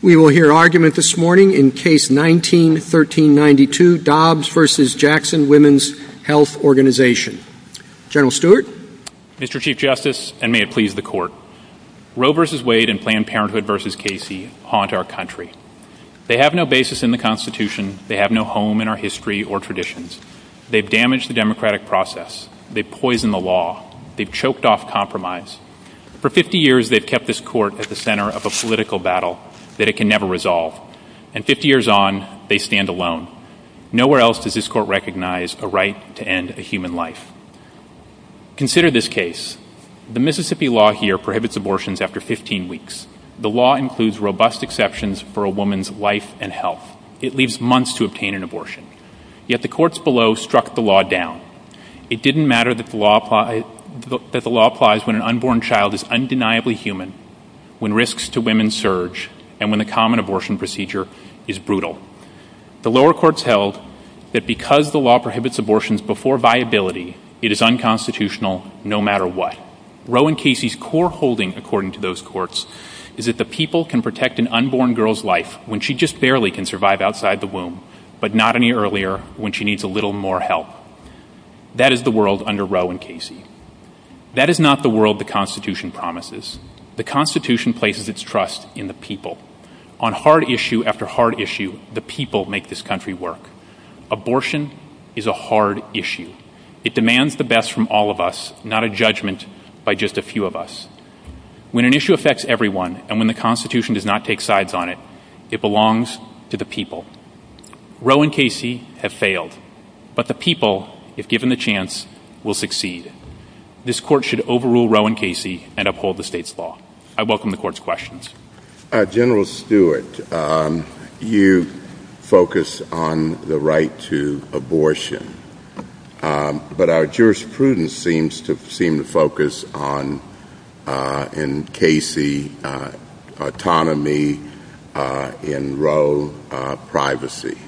We will hear argument this morning in Case 19-1392, Dobbs v. Jackson Women's Health Organization. General Stewart. Mr. Chief Justice, and may it please the Court. Roe v. Wade and Planned Parenthood v. Casey haunt our country. They have no basis in the Constitution. They have no home in our history or traditions. They've damaged the democratic process. They've poisoned the law. They've choked off compromise. For 50 years, they've kept this Court at the center of a political battle that it can never resolve. And 50 years on, they stand alone. Nowhere else does this Court recognize a right to end a human life. Consider this case. The Mississippi law here prohibits abortions after 15 weeks. The law includes robust exceptions for a woman's life and health. It leaves months to obtain an abortion. Yet the courts below struck the law down. It didn't matter that the law applies when an unborn child is undeniably human, when risks to women surge, and when the common abortion procedure is brutal. The lower courts held that because the law prohibits abortions before viability, it is unconstitutional no matter what. Roe and Casey's core holding, according to those courts, is that the people can protect an unborn girl's life when she just barely can survive outside the womb, but not any earlier when she needs a little more help. That is the world under Roe and Casey. That is not the world the Constitution promises. The Constitution places its trust in the people. On hard issue after hard issue, the people make this country work. Abortion is a hard issue. It demands the best from all of us, not a judgment by just a few of us. When an issue affects everyone, and when the Constitution does not take sides on it, it belongs to the people. Roe and Casey have failed, but the people, if given the chance, will succeed. This court should overrule Roe and Casey and uphold the state's law. I welcome the court's questions. General Stewart, you focus on the right to abortion, but our jurisprudence seems to focus on, in Casey, autonomy, in Roe, privacy.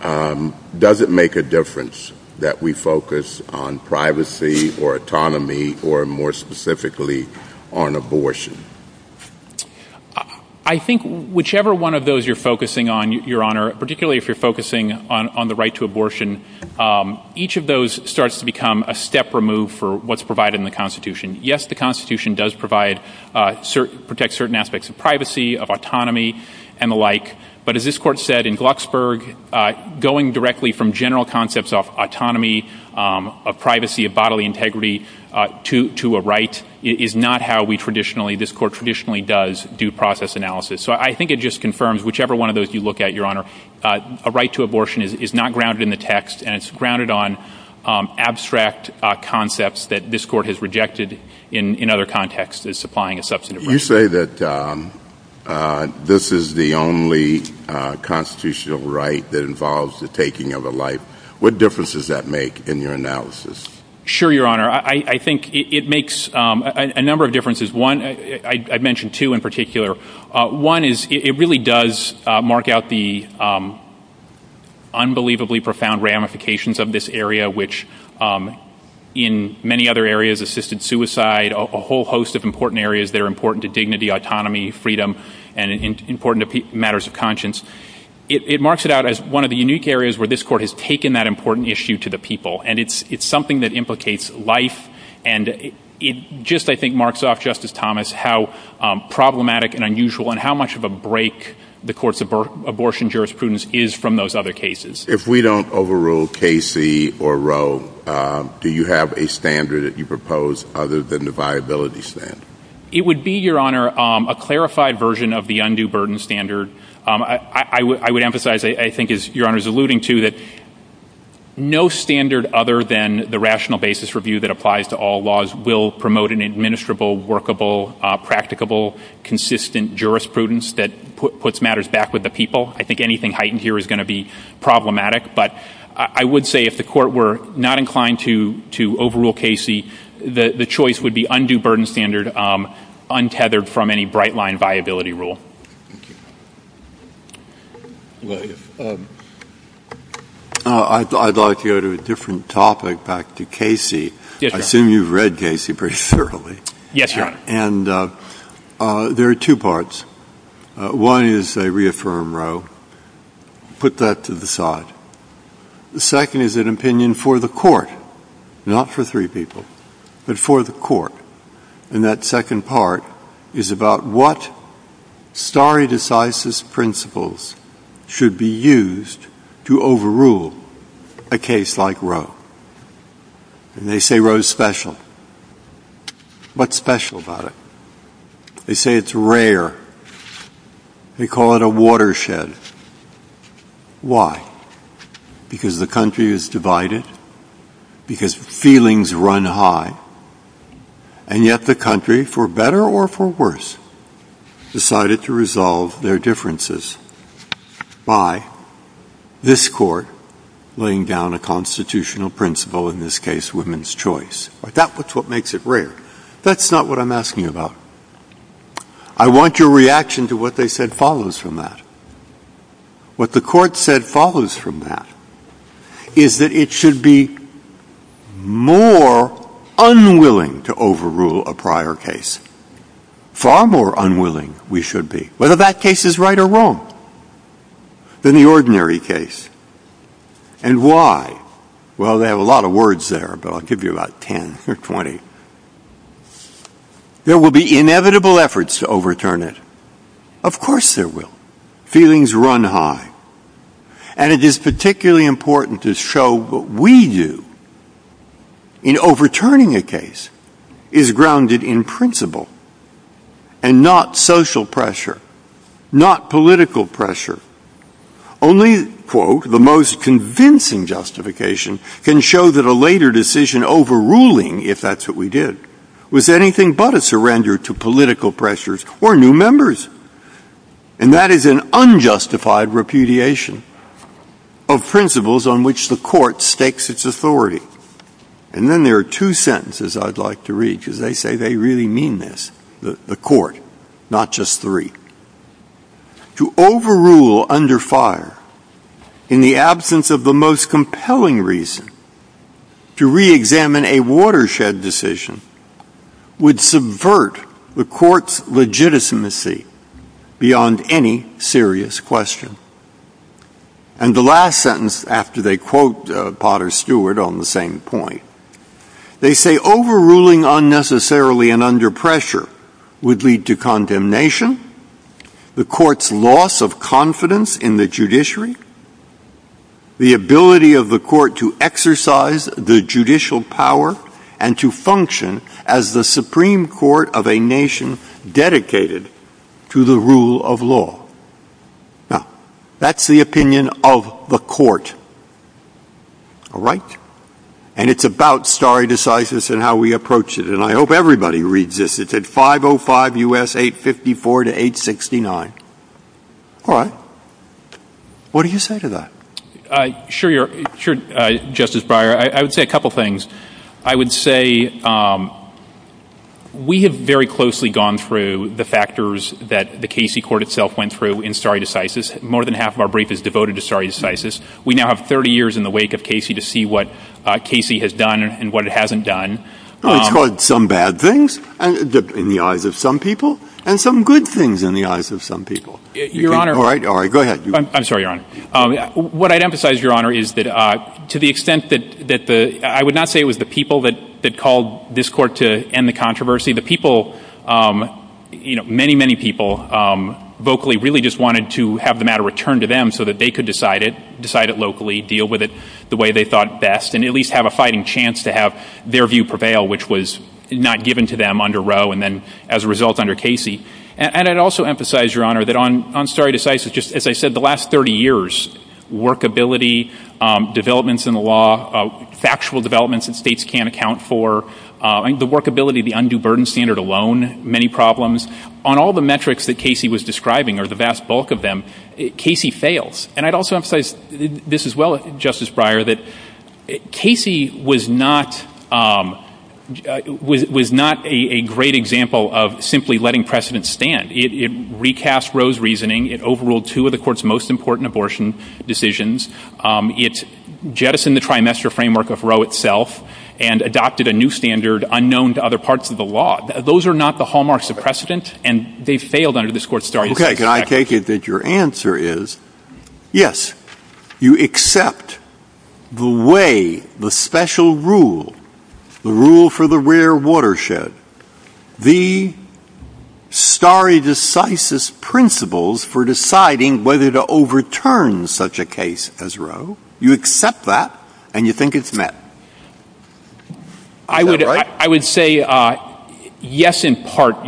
Does it make a difference that we focus on privacy or autonomy or, more specifically, on abortion? I think whichever one of those you're focusing on, Your Honor, particularly if you're focusing on the right to abortion, each of those starts to become a step removed from what's provided in the Constitution. Yes, the Constitution does protect certain aspects of privacy, of autonomy, and the like, but as this court said in Glucksburg, going directly from general concepts of autonomy, of privacy, of bodily integrity to a right is not how this court traditionally does due process analysis. So I think it just confirms, whichever one of those you look at, Your Honor, a right to abortion is not grounded in the text, and it's grounded on abstract concepts that this court has rejected in other contexts as supplying a substantive right. You say that this is the only constitutional right that involves the taking of a life. What difference does that make in your analysis? Sure, Your Honor. I think it makes a number of differences. I'd mention two in particular. One is it really does mark out the unbelievably profound ramifications of this area, which in many other areas, assisted suicide, a whole host of important areas that are important to dignity, autonomy, freedom, and important matters of conscience. It marks it out as one of the unique areas where this court has taken that important issue to the people, and it's something that implicates life, and it just, I think, marks off, Justice Thomas, how problematic and unusual and how much of a break the court's abortion jurisprudence is from those other cases. If we don't overrule Casey or Roe, do you have a standard that you propose other than the viability standard? It would be, Your Honor, a clarified version of the undue burden standard. I would emphasize, I think as Your Honor is alluding to, that no standard other than the rational basis review that applies to all laws will promote an administrable, workable, practicable, consistent jurisprudence that puts matters back with the people. I think anything heightened here is going to be problematic, but I would say if the court were not inclined to overrule Casey, the choice would be undue burden standard, untethered from any bright-line viability rule. Thank you. Go ahead. I'd like to go to a different topic, back to Casey. I assume you've read Casey pretty thoroughly. Yes, Your Honor. And there are two parts. One is they reaffirm Roe. Put that to the side. The second is an opinion for the court, not for three people, but for the court. And that second part is about what stare decisis principles should be used to overrule a case like Roe. And they say Roe is special. What's special about it? They say it's rare. They call it a watershed. Why? Because the country is divided. Because feelings run high. And yet the country, for better or for worse, decided to resolve their differences by this court laying down a constitutional principle, in this case women's choice. That's what makes it rare. That's not what I'm asking about. I want your reaction to what they said follows from that. What the court said follows from that is that it should be more unwilling to overrule a prior case. Far more unwilling we should be, whether that case is right or wrong, than the ordinary case. And why? Well, they have a lot of words there, but I'll give you about 10 or 20. There will be inevitable efforts to overturn it. Of course there will. Feelings run high. And it is particularly important to show what we do in overturning a case is grounded in principle and not social pressure, not political pressure. Only, quote, the most convincing justification can show that a later decision overruling, if that's what we did, was anything but a surrender to political pressures or new members. And that is an unjustified repudiation of principles on which the court stakes its authority. And then there are two sentences I'd like to read because they say they really mean this, the court, not just three. To overrule under fire in the absence of the most compelling reason to reexamine a watershed decision would subvert the court's legitimacy beyond any serious question. And the last sentence, after they quote Potter Stewart on the same point, they say overruling unnecessarily and under pressure would lead to condemnation, the court's loss of confidence in the judiciary, the ability of the court to exercise the judicial power and to function as the Supreme Court of a nation dedicated to the rule of law. Now, that's the opinion of the court, all right? And it's about stare decisis and how we approach it. And I hope everybody reads this. It's at 505 U.S. 854 to 869. All right. What do you say to that? Sure, Justice Breyer. I would say a couple things. I would say we have very closely gone through the factors that the Casey court itself went through in stare decisis. More than half of our brief is devoted to stare decisis. We now have 30 years in the wake of Casey to see what Casey has done and what it hasn't done. Some bad things in the eyes of some people and some good things in the eyes of some people. All right. Go ahead. I'm sorry, Your Honor. What I'd emphasize, Your Honor, is that to the extent that the – I would not say it was the people that called this court to end the controversy. The people, you know, many, many people vocally really just wanted to have the matter returned to them so that they could decide it, decide it locally, deal with it the way they thought best, and at least have a fighting chance to have their view prevail, which was not given to them under Roe and then as a result under Casey. And I'd also emphasize, Your Honor, that on stare decisis, just as I said, the last 30 years, workability, developments in the law, factual developments that states can't account for, the workability of the undue burden standard alone, many problems, on all the metrics that Casey was describing or the vast bulk of them, Casey fails. And I'd also emphasize this as well, Justice Breyer, that Casey was not a great example of simply letting precedent stand. It recast Roe's reasoning. It overruled two of the Court's most important abortion decisions. It jettisoned the trimester framework of Roe itself and adopted a new standard unknown to other parts of the law. Those are not the hallmarks of precedent, and they failed under this Court's stare decisis. Okay, can I take it that your answer is, yes, you accept the way, the special rule, the rule for the rare watershed, the stare decisis principles for deciding whether to overturn such a case as Roe. You accept that, and you think it's met. I would say, yes, in part,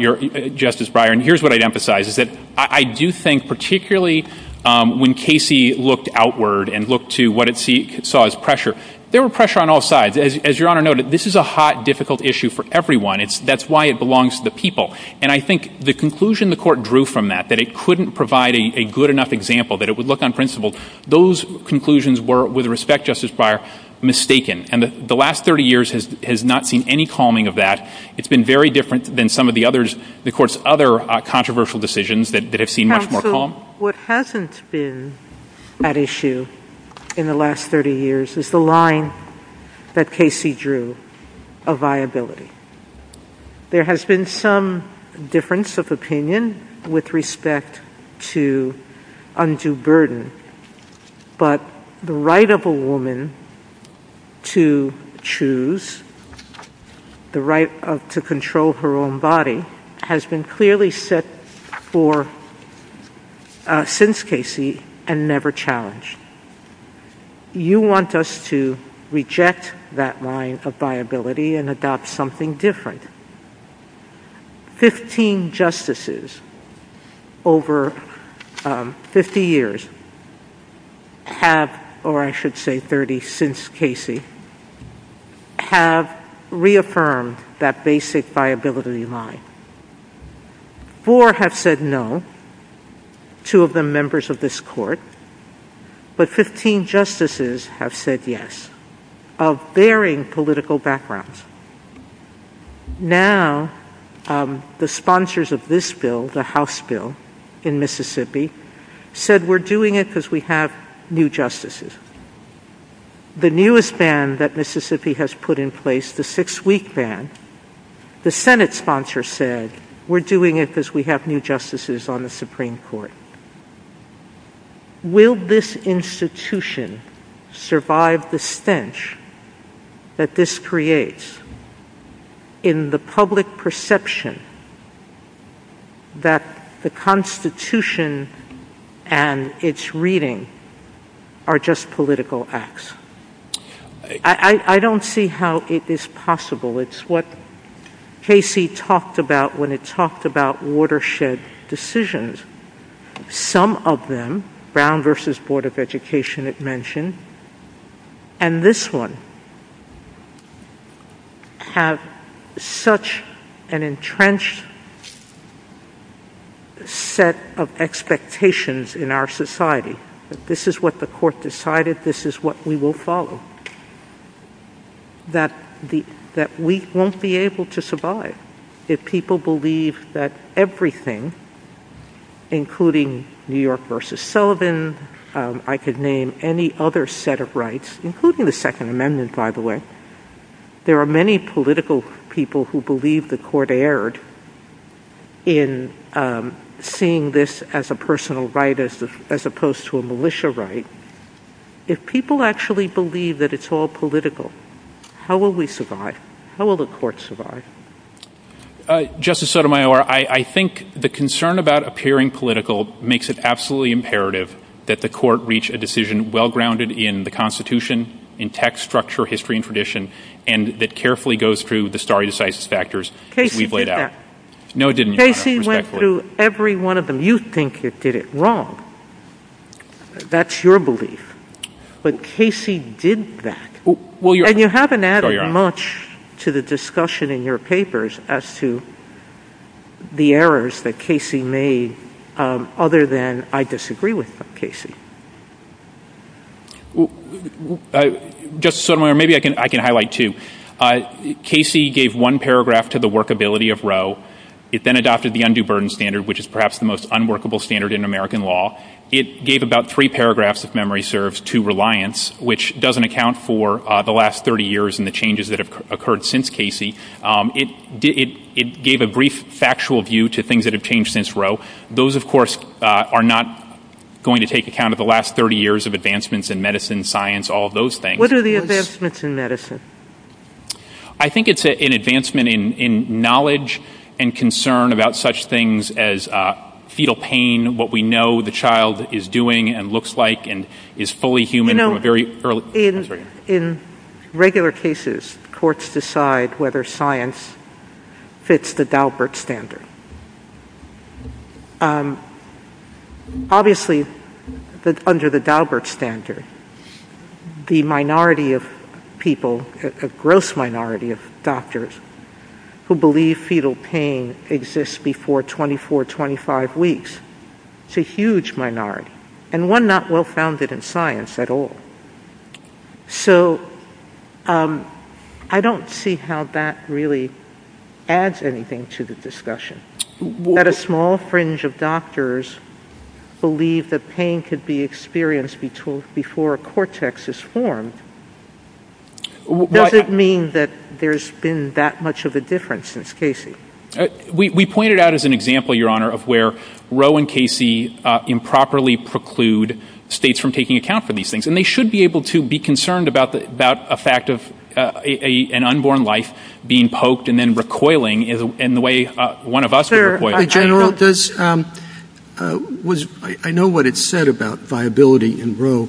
Justice Breyer. And here's what I'd emphasize, is that I do think, particularly when Casey looked outward and looked to what he saw as pressure, there was pressure on all sides. As Your Honor noted, this is a hot, difficult issue for everyone. That's why it belongs to the people. And I think the conclusion the Court drew from that, that it couldn't provide a good enough example, that it would look on principle, those conclusions were, with respect, Justice Breyer, mistaken. And the last 30 years has not seen any calming of that. It's been very different than some of the others, the Court's other controversial decisions that have seen much more calm. What hasn't been at issue in the last 30 years is the line that Casey drew of viability. There has been some difference of opinion with respect to undue burden, but the right of a woman to choose, the right to control her own body, has been clearly set for, since Casey, and never challenged. You want us to reject that line of viability and adopt something different. Fifteen Justices over 50 years have, or I should say 30 since Casey, have reaffirmed that basic viability line. Four have said no, two of them members of this Court, but 15 Justices have said yes, of varying political backgrounds. Now, the sponsors of this bill, the House bill in Mississippi, said we're doing it because we have new Justices. The newest ban that Mississippi has put in place, the six-week ban, the Senate sponsor said we're doing it because we have new Justices on the Supreme Court. Will this institution survive the stench that this creates in the public perception that the Constitution and its reading are just political acts? I don't see how it is possible. It's what Casey talked about when he talked about watershed decisions. Some of them, Brown v. Board of Education it mentioned, and this one, have such an entrenched set of expectations in our society that this is what the Court decided, this is what we will follow. That we won't be able to survive if people believe that everything, including New York v. Sullivan, I could name any other set of rights, including the Second Amendment by the way, there are many political people who believe the Court erred in seeing this as a personal right as opposed to a militia right. If people actually believe that it's all political, how will we survive? How will the Court survive? Justice Sotomayor, I think the concern about appearing political makes it absolutely imperative that the Court reach a decision well-grounded in the Constitution, in text, structure, history, and tradition, and that carefully goes through the stare decisis factors that we've laid out. Casey did that. No it didn't. Casey went through every one of them. You think it did it wrong. That's your belief. But Casey did that. And you haven't added much to the discussion in your papers as to the errors that Casey made, other than I disagree with Casey. Justice Sotomayor, maybe I can highlight two. Casey gave one paragraph to the workability of Roe. It then adopted the Undue Burden Standard, which is perhaps the most unworkable standard in American law. It gave about three paragraphs, if memory serves, to Reliance, which doesn't account for the last 30 years and the changes that have occurred since Casey. It gave a brief factual view to things that have changed since Roe. Those, of course, are not going to take account of the last 30 years of advancements in medicine, science, all of those things. What are the advancements in medicine? I think it's an advancement in knowledge and concern about such things as fetal pain, what we know the child is doing and looks like and is fully human from a very early... In regular cases, courts decide whether science fits the Daubert standard. Obviously, under the Daubert standard, the minority of people, the gross minority of doctors, who believe fetal pain exists before 24, 25 weeks, it's a huge minority, and one not well-founded in science at all. I don't see how that really adds anything to the discussion. That a small fringe of doctors believe that pain could be experienced before a cortex is formed, does it mean that there's been that much of a difference since Casey? We pointed out as an example, Your Honor, of where Roe and Casey improperly preclude states from taking account for these things. They should be able to be concerned about the fact of an unborn life being poked and then recoiling in the way one of us was recoiling. General, I know what it said about viability in Roe,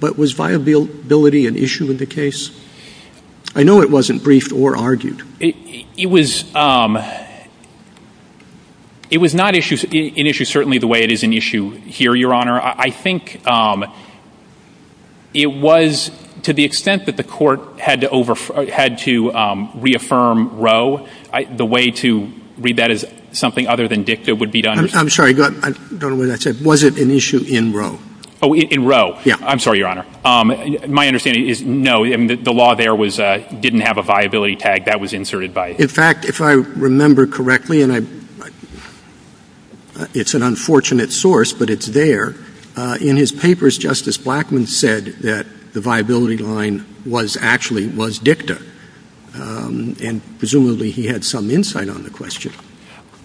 but was viability an issue in the case? I know it wasn't briefed or argued. It was not an issue certainly the way it is an issue here, Your Honor. I think it was to the extent that the court had to reaffirm Roe, the way to read that as something other than dicta would be to understand... I'm sorry, I don't know what that said. Was it an issue in Roe? In Roe, yeah. I'm sorry, Your Honor. My understanding is no. The law there didn't have a viability tag. That was inserted by... In fact, if I remember correctly, and it's an unfortunate source, but it's there. In his papers, Justice Blackmun said that the viability line actually was dicta, and presumably he had some insight on the question.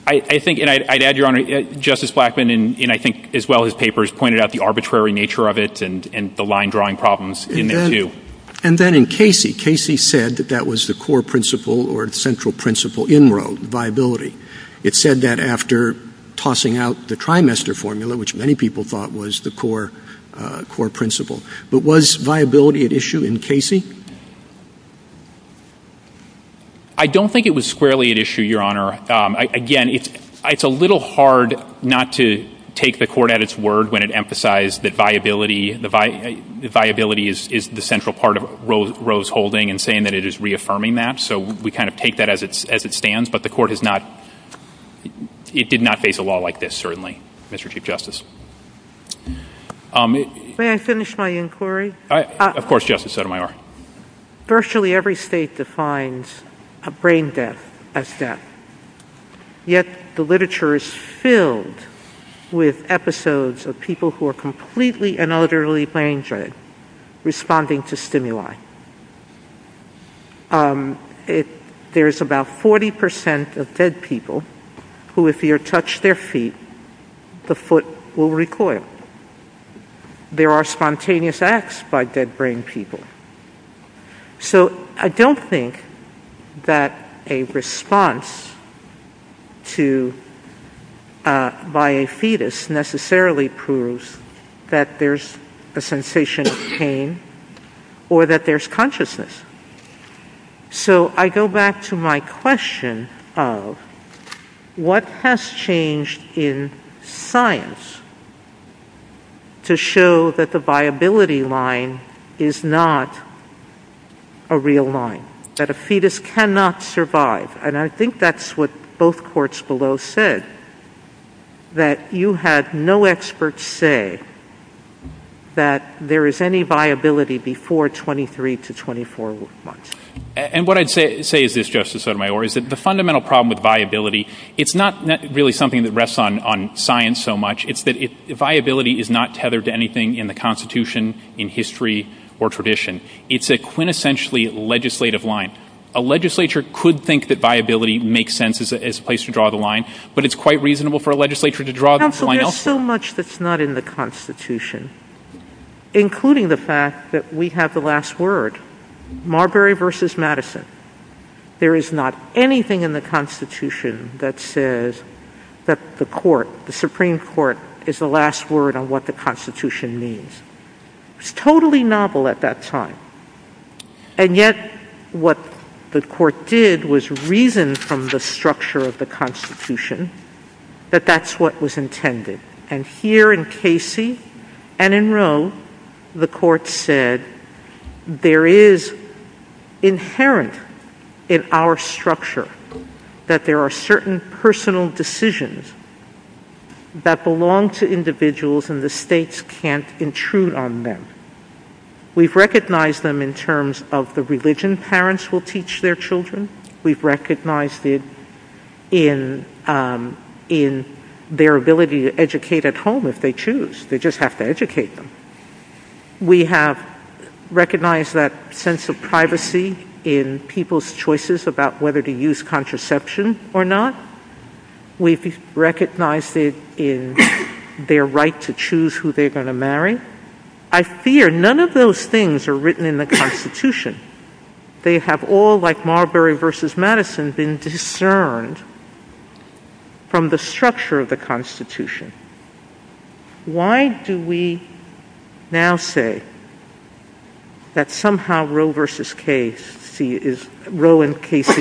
I think, and I'd add, Your Honor, Justice Blackmun, and I think as well as papers, pointed out the arbitrary nature of it and the line-drawing problems in it too. And then in Casey, Casey said that that was the core principle or central principle in Roe, viability. It said that after tossing out the trimester formula, which many people thought was the core principle. But was viability an issue in Casey? I don't think it was squarely an issue, Your Honor. Again, it's a little hard not to take the court at its word when it emphasized that viability is the central part of Roe's holding and saying that it is reaffirming that. So we kind of take that as it stands, but the court has not, it did not face a law like this, certainly, Mr. Chief Justice. May I finish my inquiry? Of course, Justice Sotomayor. Virtually every state defines a brain death as death. Yet the literature is filled with episodes of people who are completely and utterly brain-dreaded responding to stimuli. There's about 40% of dead people who, if you touch their feet, the foot will recoil. There are spontaneous acts by dead brain people. So I don't think that a response by a fetus necessarily proves that there's a sensation of pain or that there's consciousness. So I go back to my question of what has changed in science to show that the viability line is not a real line, that a fetus cannot survive? And I think that's what both courts below said, that you had no experts say that there is any viability before 23 to 24 months. And what I'd say is this, Justice Sotomayor, is that the fundamental problem with viability, it's not really something that rests on science so much. It's that viability is not tethered to anything in the Constitution, in history, or tradition. It's a quintessentially legislative line. A legislature could think that viability makes sense as a place to draw the line, but it's quite reasonable for a legislature to draw the line elsewhere. Counsel, there's so much that's not in the Constitution, including the fact that we have the last word, Marbury v. Madison. There is not anything in the Constitution that says that the Supreme Court is the last word on what the Constitution means. It's totally novel at that time, and yet what the court did was reason from the structure of the Constitution that that's what was intended. And here in Casey and in Rome, the court said there is inherent in our structure that there are certain personal decisions that belong to individuals and the states can't intrude on them. We've recognized them in terms of the religion parents will teach their children. We've recognized it in their ability to educate at home if they choose. They just have to educate them. We have recognized that sense of privacy in people's choices about whether to use contraception or not. We've recognized it in their right to choose who they're going to marry. I fear none of those things are written in the Constitution. They have all, like Marbury v. Madison, been discerned from the structure of the Constitution. Why do we now say that somehow Roe v. Casey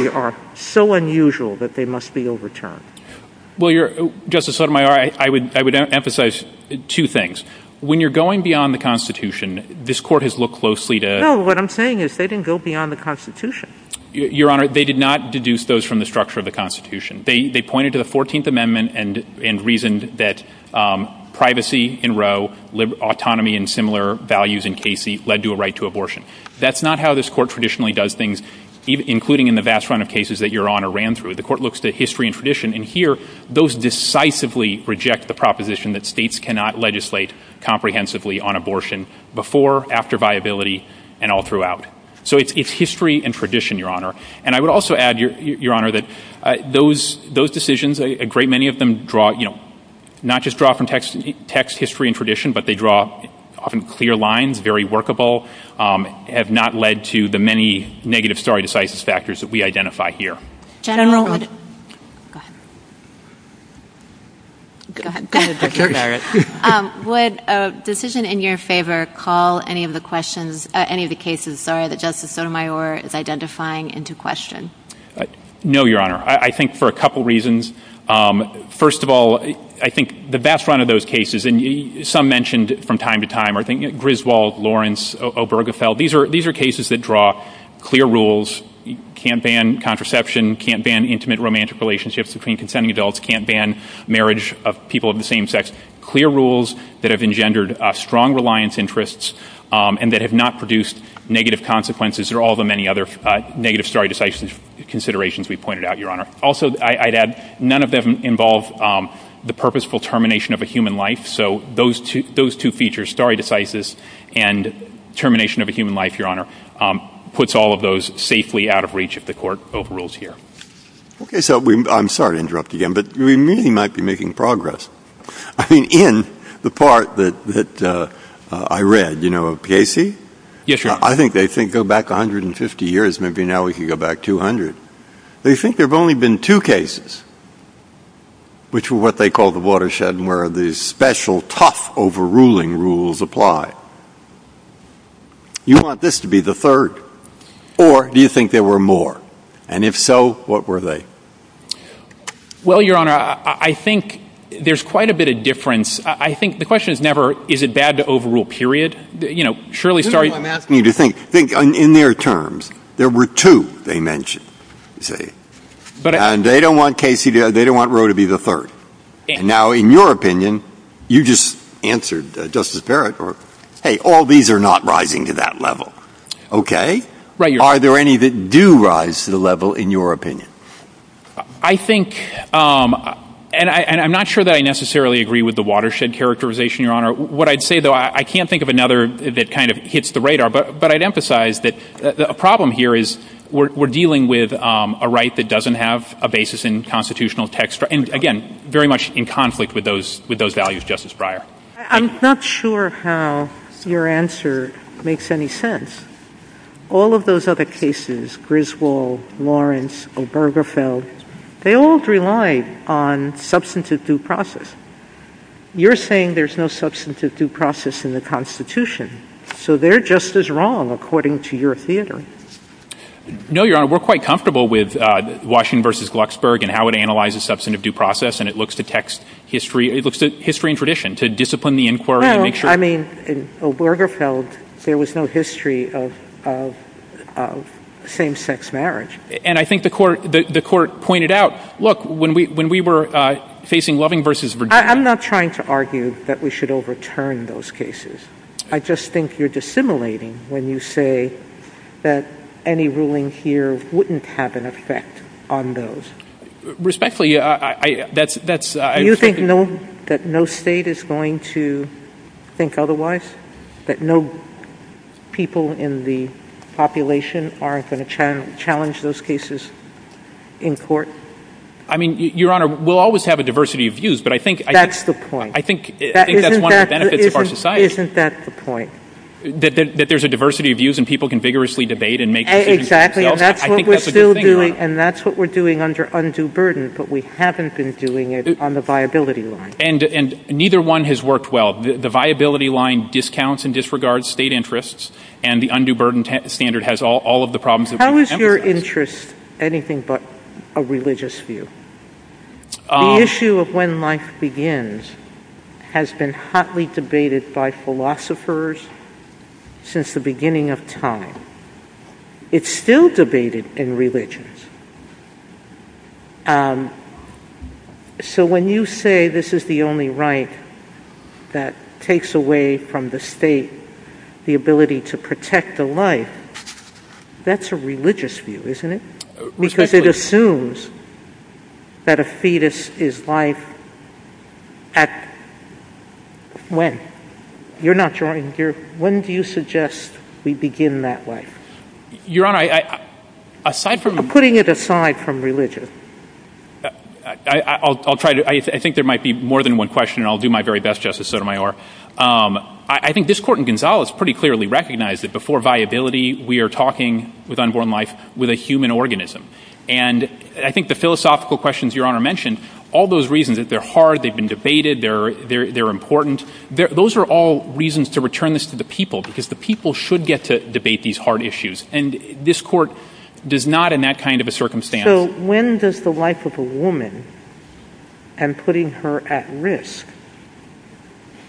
are so unusual that they must be overturned? Well, Justice Sotomayor, I would emphasize two things. When you're going beyond the Constitution, this court has looked closely to— No, what I'm saying is they didn't go beyond the Constitution. Your Honor, they did not deduce those from the structure of the Constitution. They pointed to the 14th Amendment and reasoned that privacy in Roe, autonomy and similar values in Casey led to a right to abortion. That's not how this court traditionally does things, including in the vast run of cases that Your Honor ran through. The court looks to history and tradition, and here those decisively reject the proposition that states cannot legislate comprehensively on abortion before, after viability, and all throughout. So it's history and tradition, Your Honor. And I would also add, Your Honor, that those decisions, a great many of them draw, you know, not just draw from text history and tradition, but they draw often clear lines, very workable, have not led to the many negative stare decisis factors that we identify here. General Wood. Go ahead. Go ahead. Would a decision in your favor call any of the questions, any of the cases, sorry, that Justice Sotomayor is identifying into question? No, Your Honor. I think for a couple reasons. First of all, I think the vast run of those cases, and some mentioned from time to time, I think Griswold, Lawrence, Obergefell, these are cases that draw clear rules, can't ban contraception, can't ban intimate romantic relationships between consenting adults, can't ban marriage of people of the same sex, clear rules that have engendered strong reliance interests and that have not produced negative consequences or all the many other negative stare decisis considerations we've pointed out, Your Honor. Also, I'd add, none of them involve the purposeful termination of a human life. So those two features, stare decisis and termination of a human life, Your Honor, puts all of those safely out of reach of the court of rules here. Okay. So I'm sorry to interrupt again, but we really might be making progress. I mean, in the part that I read, you know, Casey? Yes, Your Honor. I think they think go back 150 years, maybe now we can go back 200. They think there have only been two cases, which were what they call the watershed and where the special tough overruling rules apply. You want this to be the third, or do you think there were more? And if so, what were they? Well, Your Honor, I think there's quite a bit of difference. I think the question is never, is it bad to overrule, period? I'm asking you to think. Think in their terms. There were two they mentioned. And they don't want Casey, they don't want Roe to be the third. Now, in your opinion, you just answered Justice Barrett, hey, all these are not rising to that level. Okay? Are there any that do rise to the level, in your opinion? I think, and I'm not sure that I necessarily agree with the watershed characterization, Your Honor. What I'd say, though, I can't think of another that kind of hits the radar. But I'd emphasize that a problem here is we're dealing with a right that doesn't have a basis in constitutional text. And, again, very much in conflict with those values, Justice Breyer. I'm not sure how your answer makes any sense. All of those other cases, Griswold, Lawrence, Obergefell, they all rely on substantive due process. You're saying there's no substantive due process in the Constitution. So they're just as wrong, according to your theater. No, Your Honor. We're quite comfortable with Washington v. Glucksberg and how it analyzes substantive due process. And it looks to text history, it looks to history and tradition, to discipline the inquiry. No, I mean, in Obergefell, there was no history of same-sex marriage. And I think the Court pointed out, look, when we were facing Loving v. Virginia. I'm not trying to argue that we should overturn those cases. I just think you're dissimilating when you say that any ruling here wouldn't have an effect on those. Respectfully, that's... Do you think that no state is going to think otherwise? That no people in the population aren't going to challenge those cases in court? I mean, Your Honor, we'll always have a diversity of views, but I think... That's the point. I think that's one of the benefits of our society. Isn't that the point? That there's a diversity of views and people can vigorously debate and make decisions themselves. Exactly, and that's what we're still doing, and that's what we're doing under undue burden, but we haven't been doing it on the viability line. And neither one has worked well. The viability line discounts and disregards state interests, and the undue burden standard has all of the problems that we have. Is your interest anything but a religious view? The issue of when life begins has been hotly debated by philosophers since the beginning of time. It's still debated in religions. So when you say this is the only right that takes away from the state the ability to protect the life, that's a religious view, isn't it? Because it assumes that a fetus is life at when? You're not drawing... When do you suggest we begin that way? Your Honor, I... Putting it aside from religion. I'll try to... I think there might be more than one question, and I'll do my very best, Justice Sotomayor. I think this Court in Gonzales pretty clearly recognized that before viability, we are talking with unborn life with a human organism. And I think the philosophical questions Your Honor mentioned, all those reasons that they're hard, they've been debated, they're important, those are all reasons to return this to the people, because the people should get to debate these hard issues. And this Court does not in that kind of a circumstance...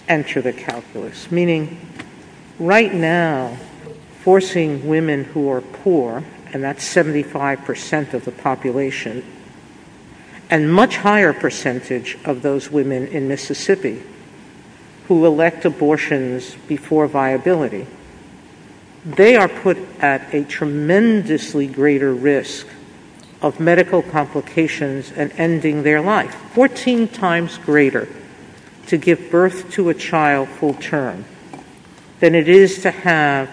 enter the calculus. Meaning, right now, forcing women who are poor, and that's 75% of the population, and much higher percentage of those women in Mississippi, who elect abortions before viability, they are put at a tremendously greater risk of medical complications and ending their life. Fourteen times greater to give birth to a child full term than it is to have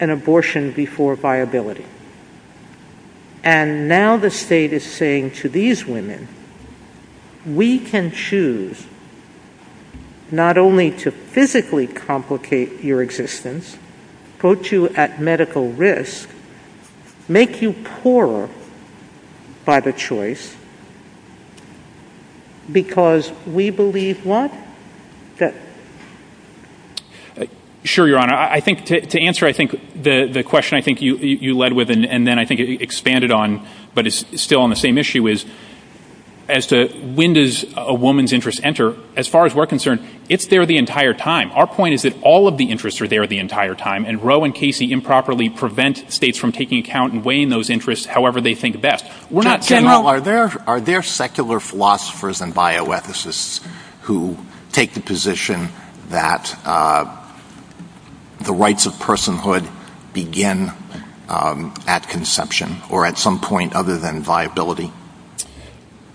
an abortion before viability. And now the state is saying to these women, we can choose not only to physically complicate your existence, put you at medical risk, make you poorer by the choice, because we believe what? Sure, Your Honor. I think to answer, I think, the question I think you led with, and then I think it expanded on, but it's still on the same issue is, as to when does a woman's interest enter, as far as we're concerned, if they're the entire time. Our point is that all of the interests are there the entire time, and Roe and Casey improperly prevent states from taking account and weighing those interests however they think best. Are there secular philosophers and bioethicists who take the position that the rights of personhood begin at conception, or at some point other than viability?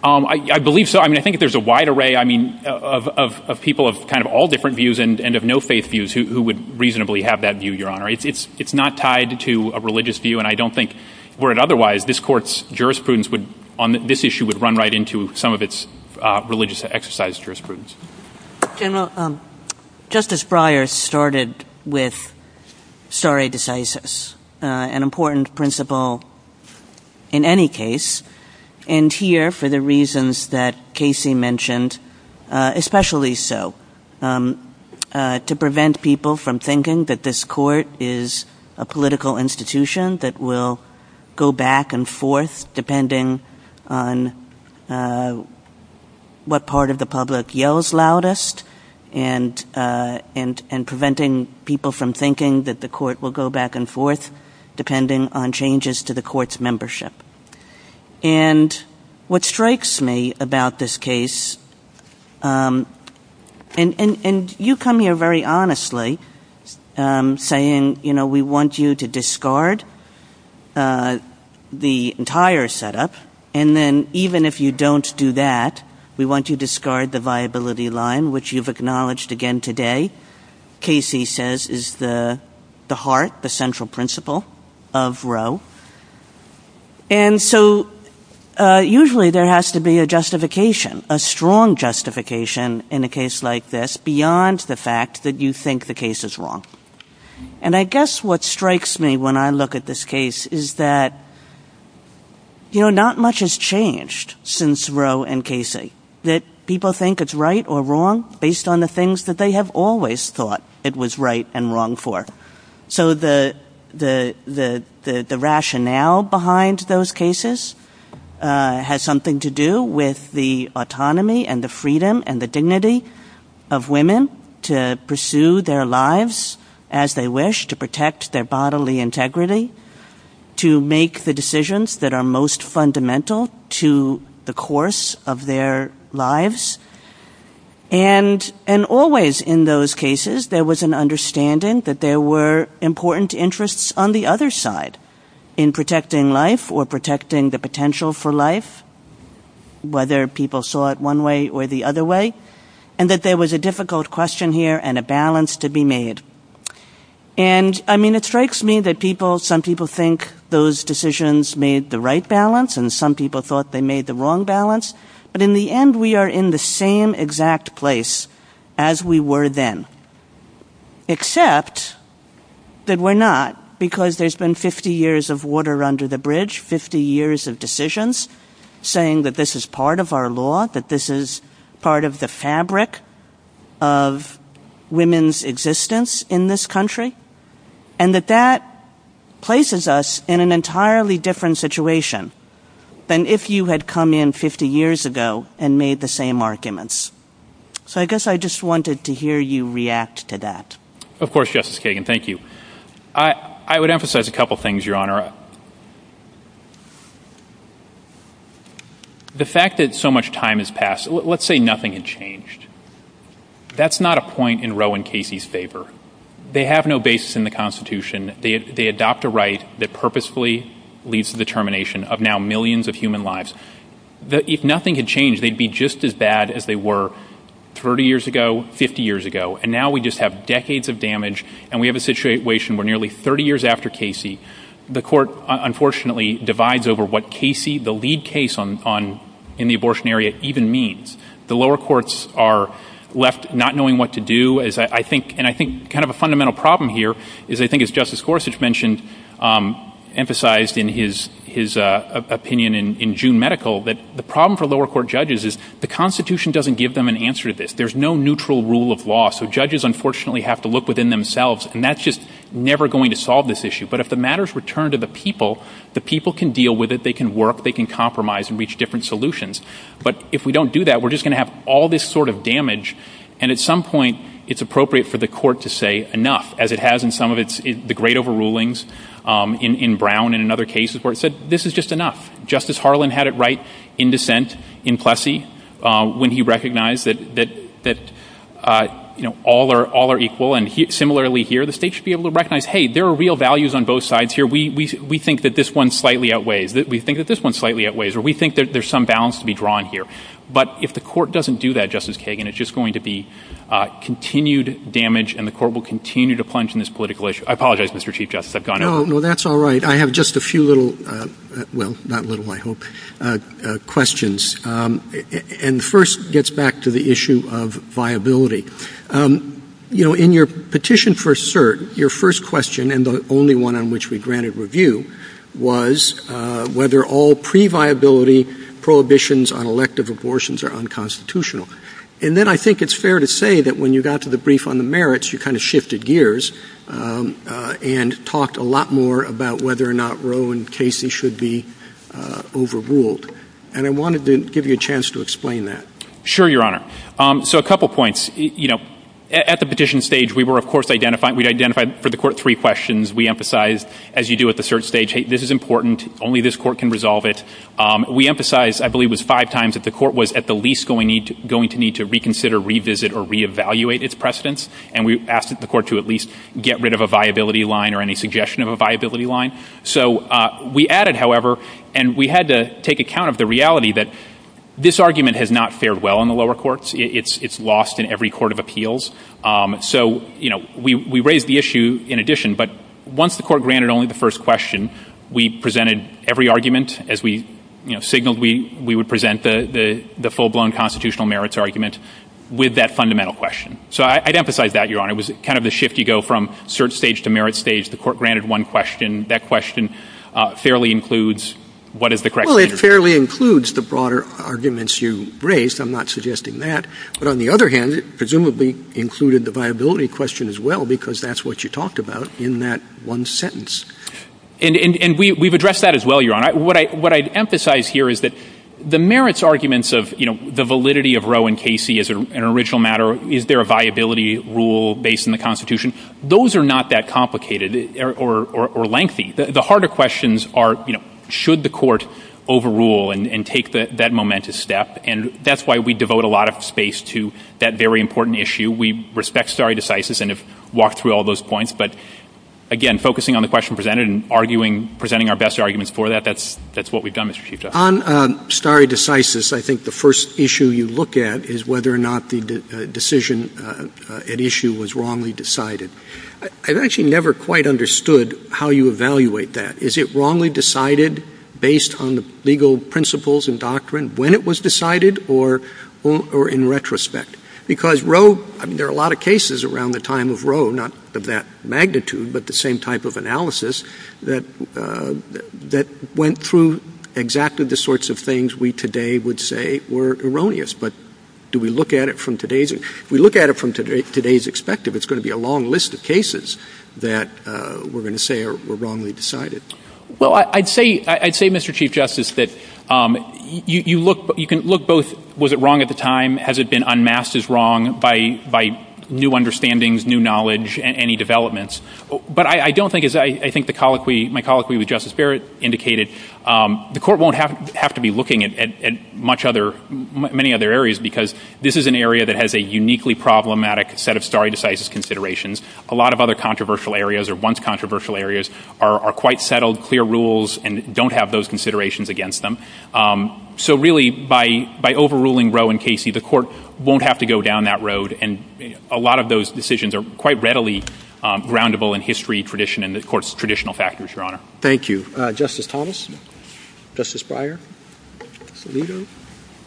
I believe so. I mean, I think there's a wide array, I mean, of people of kind of all different views and of no faith views who would reasonably have that view, Your Honor. It's not tied to a religious view, and I don't think were it otherwise, this Court's jurisprudence would, on this issue, would run right into some of its religious exercise jurisprudence. General, Justice Breyer started with stare decisis, an important principle in any case, and here, for the reasons that Casey mentioned, especially so to prevent people from thinking that this Court is a political institution that will go back and forth depending on what part of the public yells loudest and preventing people from thinking that the Court will go back and forth depending on changes to the Court's membership. And what strikes me about this case, and you come here very honestly saying, you know, we want you to discard the entire setup, and then even if you don't do that, we want you to discard the viability line, which you've acknowledged again today, Casey says, is the heart, the central principle of Roe. And so usually there has to be a justification, a strong justification in a case like this beyond the fact that you think the case is wrong. And I guess what strikes me when I look at this case is that, you know, not much has changed since Roe and Casey, that people think it's right or wrong based on the things that they have always thought it was right and wrong for. So the rationale behind those cases has something to do with the autonomy and the freedom and the dignity of women to pursue their lives as they wish, to protect their bodily integrity, to make the decisions that are most fundamental to the course of their lives. And always in those cases there was an understanding that there were important interests on the other side in protecting life or protecting the potential for life, whether people saw it one way or the other way, and that there was a difficult question here and a balance to be made. And, I mean, it strikes me that people, some people think those decisions made the right balance and some people thought they made the wrong balance, but in the end we are in the same exact place as we were then. Except that we're not, because there's been 50 years of water under the bridge, 50 years of decisions, saying that this is part of our law, that this is part of the fabric of women's existence in this country, and that that places us in an entirely different situation than if you had come in 50 years ago and made the same arguments. So I guess I just wanted to hear you react to that. Of course, Justice Kagan, thank you. I would emphasize a couple things, Your Honor. The fact that so much time has passed, let's say nothing had changed. That's not a point in Roe and Casey's paper. They have no basis in the Constitution. They adopt a right that purposefully leads to the termination of now millions of human lives. If nothing had changed, they'd be just as bad as they were 30 years ago, 50 years ago, and now we just have decades of damage and we have a situation where nearly 30 years after Casey, the Court unfortunately divides over what Casey, the lead case in the abortion area, even means. The lower courts are left not knowing what to do, and I think kind of a fundamental problem here is I think as Justice Gorsuch mentioned, emphasized in his opinion in June Medical, that the problem for lower court judges is the Constitution doesn't give them an answer to this. There's no neutral rule of law, so judges unfortunately have to look within themselves and that's just never going to solve this issue. But if the matters return to the people, the people can deal with it, they can work, they can compromise and reach different solutions. But if we don't do that, we're just going to have all this sort of damage and at some point it's appropriate for the court to say enough, as it has in some of the great overrulings in Brown and in other cases where it said this is just enough. Justice Harlan had it right in dissent in Plessy when he recognized that all are equal and similarly here the state should be able to recognize, hey, there are real values on both sides here. We think that this one slightly outweighs, we think that this one slightly outweighs, or we think that there's some balance to be drawn here. But if the court doesn't do that, Justice Kagan, it's just going to be continued damage and the court will continue to plunge in this political issue. I apologize, Mr. Chief Justice, I've gone on. Well, that's all right. I have just a few little, well, not little, I hope, questions. And first gets back to the issue of viability. You know, in your petition for cert, your first question and the only one on which we granted review was whether all pre-viability prohibitions on elective abortions are unconstitutional. And then I think it's fair to say that when you got to the brief on the merits, you kind of shifted gears and talked a lot more about whether or not Roe and Casey should be overruled. And I wanted to give you a chance to explain that. Sure, Your Honor. So a couple points. You know, at the petition stage we were of course identifying, we'd identified for the court three questions. We emphasized, as you do at the cert stage, hey, this is important, only this court can resolve it. We emphasized, I believe it was five times, that the court was at the least going to need to reconsider, revisit, or reevaluate its precedents. And we asked the court to at least get rid of a viability line or any suggestion of a viability line. So we added, however, and we had to take account of the reality that this argument has not fared well in the lower courts. It's lost in every court of appeals. So we raised the issue in addition. But once the court granted only the first question, we presented every argument as we signaled we would present the full-blown constitutional merits argument with that fundamental question. So I'd emphasize that, Your Honor. It was kind of the shifty-go from cert stage to merits stage. The court granted one question. That question fairly includes what is the correct answer. Well, it fairly includes the broader arguments you raised. I'm not suggesting that. But on the other hand, it presumably included the viability question as well, because that's what you talked about in that one sentence. And we've addressed that as well, Your Honor. What I'd emphasize here is that the merits arguments of the validity of Roe and Casey as an original matter, is there a viability rule based on the Constitution? Those are not that complicated or lengthy. The harder questions are should the court overrule and take that momentous step? And that's why we devote a lot of space to that very important issue. We respect stare decisis and have walked through all those points. But again, focusing on the question presented and presenting our best arguments for that, that's what we've done, Mr. Chief Justice. On stare decisis, I think the first issue you look at is whether or not the decision at issue was wrongly decided. I've actually never quite understood how you evaluate that. Is it wrongly decided based on the legal principles and doctrine when it was decided or in retrospect? Because Roe, there are a lot of cases around the time of Roe, not of that magnitude, but the same type of analysis, that went through exactly the sorts of things we today would say were erroneous. But do we look at it from today's... If we look at it from today's expected, it's going to be a long list of cases that we're going to say were wrongly decided. Well, I'd say, Mr. Chief Justice, that you can look both, was it wrong at the time? Has it been unmasked as wrong by new understandings, new knowledge, any developments? But I don't think, as I think my colloquy with Justice Barrett indicated, the court won't have to be looking at many other areas because this is an area that has a uniquely problematic set of stare decisis considerations. A lot of other controversial areas or once-controversial areas are quite settled, clear rules, and don't have those considerations against them. So really, by overruling Roe and Casey, the court won't have to go down that road, and a lot of those decisions are quite readily roundable in history, tradition, and, of course, traditional factors, Your Honor. Thank you. Justice Thomas? Justice Breyer? Salido?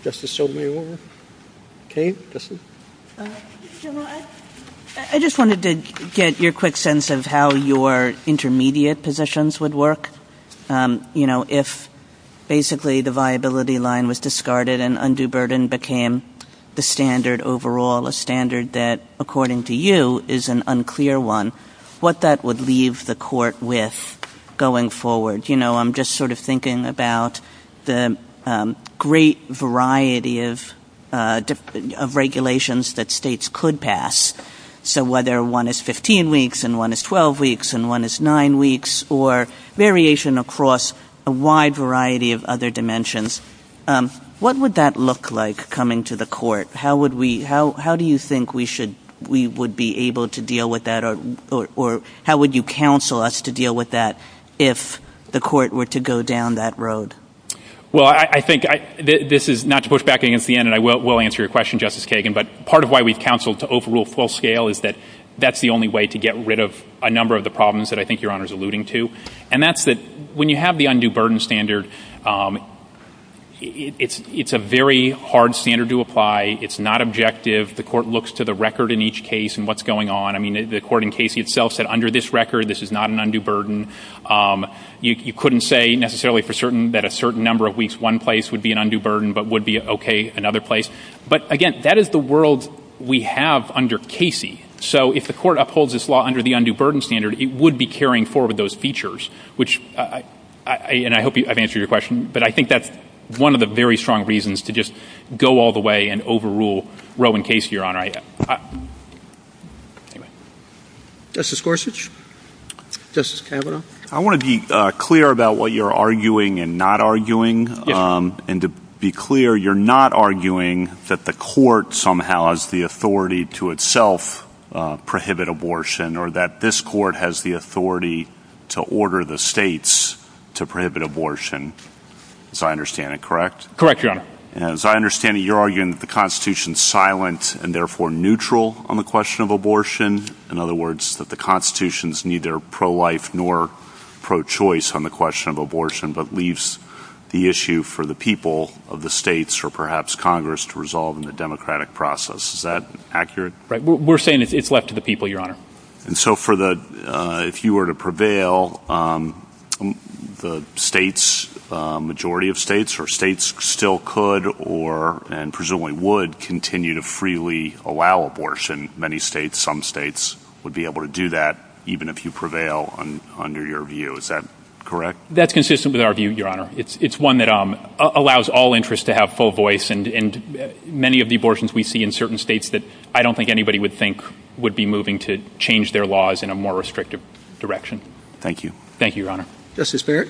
Justice Sotomayor? Kaye? Justice? I just wanted to get your quick sense of how your intermediate positions would work. You know, if basically the viability line was discarded and undue burden became the standard overall, a standard that, according to you, is an unclear one, what that would leave the court with going forward. You know, I'm just sort of thinking about the great variety of regulations that states could pass. So whether one is 15 weeks and one is 12 weeks and one is nine weeks, or variation across a wide variety of other dimensions, what would that look like coming to the court? How do you think we would be able to deal with that, or how would you counsel us to deal with that if the court were to go down that road? Well, I think this is not to push back against the end, and I will answer your question, Justice Kagan, but part of why we counsel to overrule full scale is that that's the only way to get rid of a number of the problems that I think Your Honor is alluding to, and that's that when you have the undue burden standard, it's a very hard standard to apply. It's not objective. The court looks to the record in each case and what's going on. I mean, the court in Casey itself said, under this record, this is not an undue burden. You couldn't say necessarily for certain that a certain number of weeks one place would be an undue burden but would be okay another place. But again, that is the world we have under Casey. So if the court upholds this law under the undue burden standard, it would be carrying forward those features, and I hope I've answered your question, but I think that's one of the very strong reasons to just go all the way and overrule Roe and Casey, Your Honor. Justice Gorsuch? Justice Kavanaugh? I want to be clear about what you're arguing and not arguing, and to be clear, you're not arguing that the court somehow has the authority to itself prohibit abortion or that this court has the authority to order the states to prohibit abortion, as I understand it, correct? Correct, Your Honor. As I understand it, you're arguing that the Constitution is silent and therefore neutral on the question of abortion. In other words, that the Constitution is neither pro-life nor pro-choice on the question of abortion but leaves the issue for the people of the states or perhaps Congress to resolve in the democratic process. Is that accurate? We're saying it's left to the people, Your Honor. And so if you were to prevail, the states, the majority of states, or states still could and presumably would continue to freely allow abortion, many states, some states would be able to do that even if you prevail under your view. Is that correct? That's consistent with our view, Your Honor. It's one that allows all interests to have full voice, and many of the abortions we see in certain states that I don't think anybody would think would be moving to change their laws in a more restrictive direction. Thank you. Thank you, Your Honor. Justice Barrett?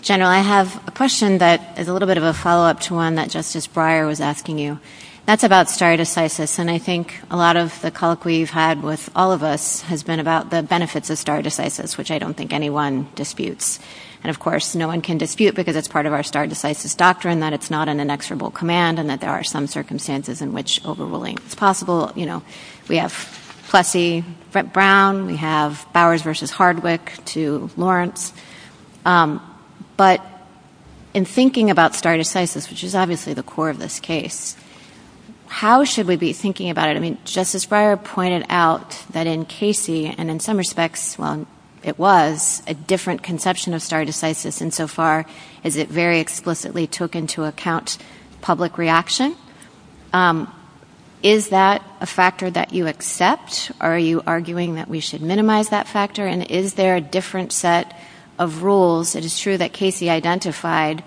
General, I have a question that is a little bit of a follow-up to one that Justice Breyer was asking you. That's about stare decisis, and I think a lot of the call we've had with all of us has been about the benefits of stare decisis, which I don't think anyone disputes. And, of course, no one can dispute because it's part of our stare decisis doctrine that it's not an inexorable command and that there are some circumstances in which overruling is possible. You know, we have Plessy-Brown, we have Bowers v. Hardwick to Lawrence. But in thinking about stare decisis, which is obviously the core of this case, how should we be thinking about it? I mean, Justice Breyer pointed out that in Casey, and in some respects, well, it was, a different conception of stare decisis than so far as it very explicitly took into account public reaction. Is that a factor that you accept, or are you arguing that we should minimize that factor? And is there a different set of rules? It is true that Casey identified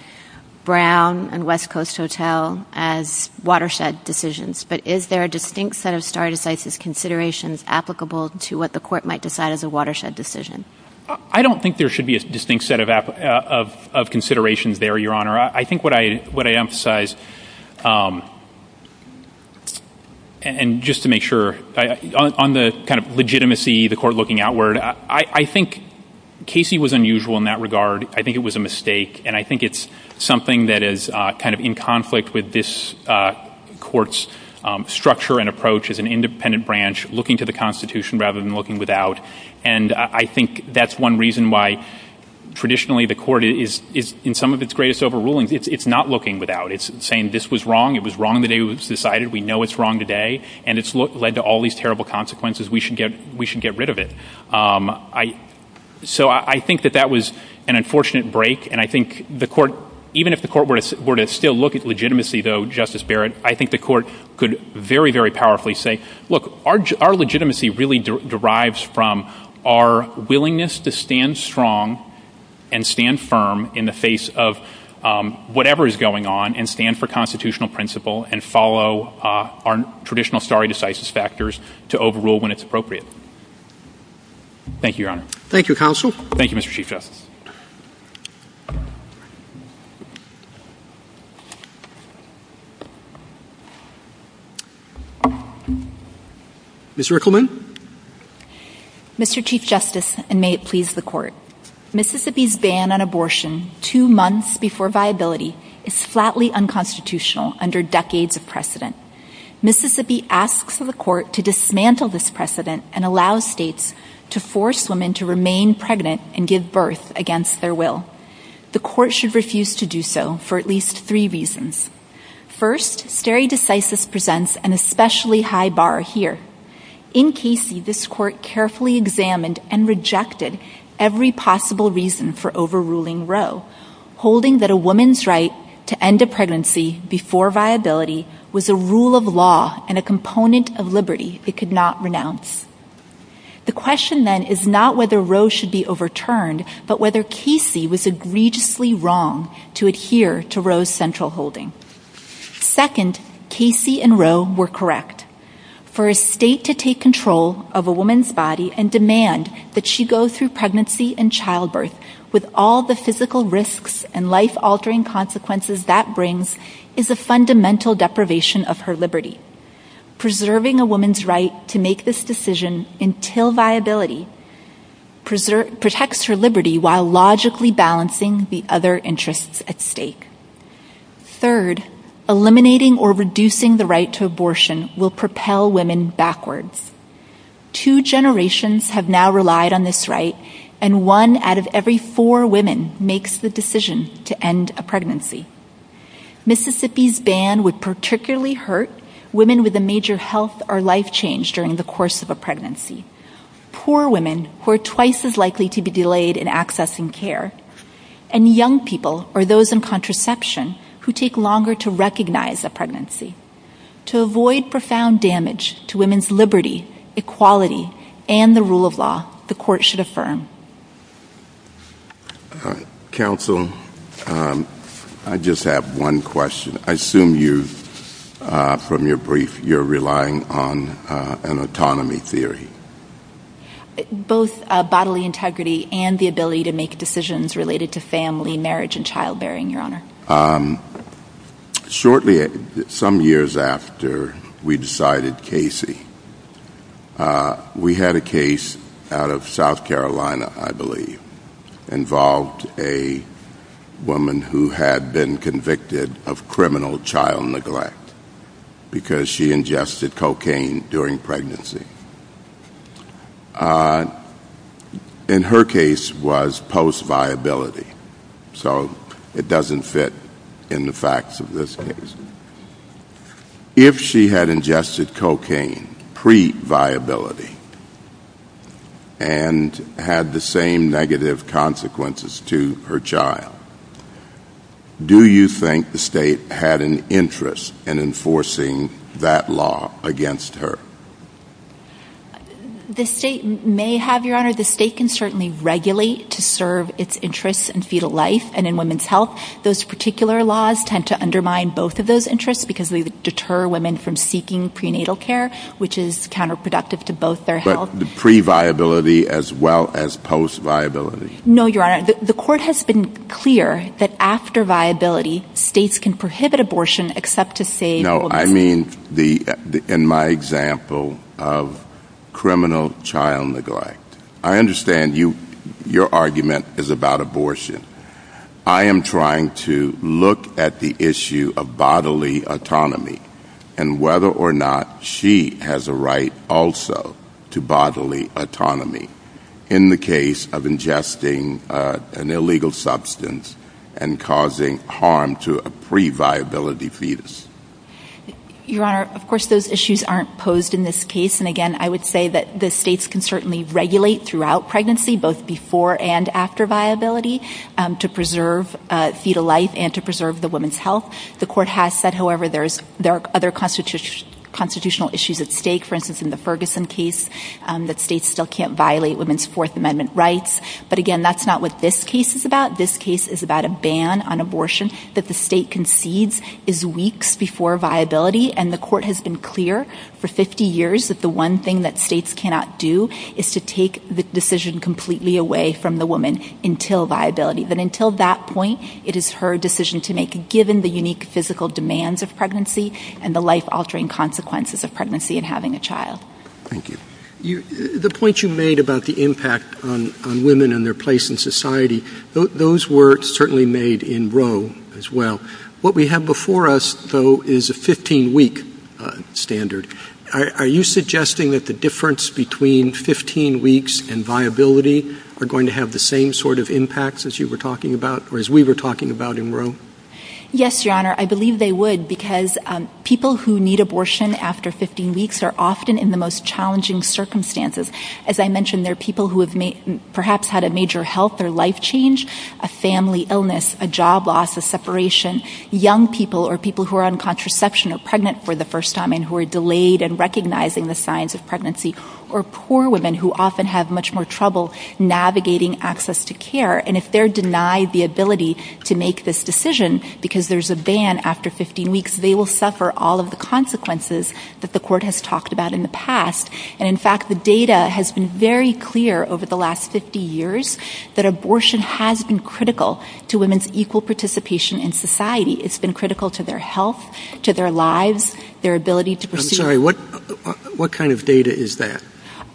Brown and West Coast Hotel as watershed decisions, but is there a distinct set of stare decisis considerations applicable to what the court might decide as a watershed decision? I don't think there should be a distinct set of considerations there, Your Honor. I think what I emphasize, and just to make sure, on the kind of legitimacy, the court looking outward, I think Casey was unusual in that regard. I think it was a mistake, and I think it's something that is kind of in conflict with this court's structure and approach as an independent branch looking to the Constitution rather than looking without. And I think that's one reason why traditionally the court is, in some of its greatest overrulings, it's not looking without. It's saying this was wrong. It was wrong the day it was decided. We know it's wrong today, and it's led to all these terrible consequences. We should get rid of it. So I think that that was an unfortunate break, and I think the court, even if the court were to still look at legitimacy, though, Justice Barrett, I think the court could very, very powerfully say, Look, our legitimacy really derives from our willingness to stand strong and stand firm in the face of whatever is going on and stand for constitutional principle and follow our traditional stare decisis factors to overrule when it's appropriate. Thank you, Your Honor. Thank you, Counsel. Thank you, Mr. Chief Justice. Ms. Rickleman. Mr. Chief Justice, and may it please the court, Mississippi's ban on abortion two months before viability is flatly unconstitutional under decades of precedent. Mississippi asks the court to dismantle this precedent and allow states to force women to remain pregnant and give birth against their will. The court should refuse to do so for at least three reasons. First, stare decisis presents an especially high bar here. In Casey, this court carefully examined and rejected every possible reason for overruling Roe, holding that a woman's right to end a pregnancy before viability was a rule of law and a component of liberty it could not renounce. The question, then, is not whether Roe should be overturned, but whether Casey was egregiously wrong to adhere to Roe's central holding. Second, Casey and Roe were correct. For a state to take control of a woman's body and demand that she go through pregnancy and childbirth with all the physical risks and life-altering consequences that brings is a fundamental deprivation of her liberty. Preserving a woman's right to make this decision until viability protects her liberty while logically balancing the other interests at stake. Third, eliminating or reducing the right to abortion will propel women backwards. Two generations have now relied on this right, and one out of every four women makes the decision to end a pregnancy. Mississippi's ban would particularly hurt women with a major health or life change during the course of a pregnancy. Poor women, who are twice as likely to be delayed in accessing care, and young people, or those in contraception, who take longer to recognize a pregnancy. To avoid profound damage to women's liberty, equality, and the rule of law, the Court should affirm. Counsel, I just have one question. I assume you, from your brief, you're relying on an autonomy theory. Both bodily integrity and the ability to make decisions related to family, marriage, and childbearing, Your Honor. Shortly, some years after we decided Casey, we had a case out of South Carolina, I believe, involved a woman who had been convicted of criminal child neglect because she ingested cocaine during pregnancy. And her case was post-viability, so it doesn't fit in the facts of this case. If she had ingested cocaine pre-viability and had the same negative consequences to her child, do you think the state had an interest in enforcing that law against her? The state may have, Your Honor. The state can certainly regulate to serve its interests in fetal life and in women's health. Those particular laws tend to undermine both of those interests because they deter women from seeking prenatal care, which is counterproductive to both their health. But pre-viability as well as post-viability? No, Your Honor. The court has been clear that after viability, states can prohibit abortion except to say... No, I mean in my example of criminal child neglect. I understand your argument is about abortion. I am trying to look at the issue of bodily autonomy and whether or not she has a right also to bodily autonomy in the case of ingesting an illegal substance and causing harm to a pre-viability fetus. Your Honor, of course those issues aren't posed in this case. And again, I would say that the states can certainly regulate throughout pregnancy, both before and after viability, to preserve fetal life and to preserve the woman's health. The court has said, however, there are other constitutional issues at stake. For instance, in the Ferguson case, that states still can't violate women's Fourth Amendment rights. But again, that's not what this case is about. This case is about a ban on abortion that the state concedes is weeks before viability. And the court has been clear for 50 years that the one thing that states cannot do is to take the decision completely away from the woman until viability. But until that point, it is her decision to make, given the unique physical demands of pregnancy and the life-altering consequences of pregnancy and having a child. Thank you. The point you made about the impact on women and their place in society, those were certainly made in Roe as well. What we have before us, though, is a 15-week standard. Are you suggesting that the difference between 15 weeks and viability are going to have the same sort of impacts as you were talking about or as we were talking about in Roe? Yes, Your Honor. I believe they would because people who need abortion after 15 weeks are often in the most challenging circumstances. As I mentioned, there are people who have perhaps had a major health or life change, a family illness, a job loss, a separation, young people or people who are on contraception or pregnant for the first time and who are delayed in recognizing the signs of pregnancy, or poor women who often have much more trouble navigating access to care. And if they're denied the ability to make this decision because there's a ban after 15 weeks, they will suffer all of the consequences that the court has talked about in the past. And, in fact, the data has been very clear over the last 50 years that abortion has been critical to women's equal participation in society. It's been critical to their health, to their lives, their ability to proceed. I'm sorry, what kind of data is that?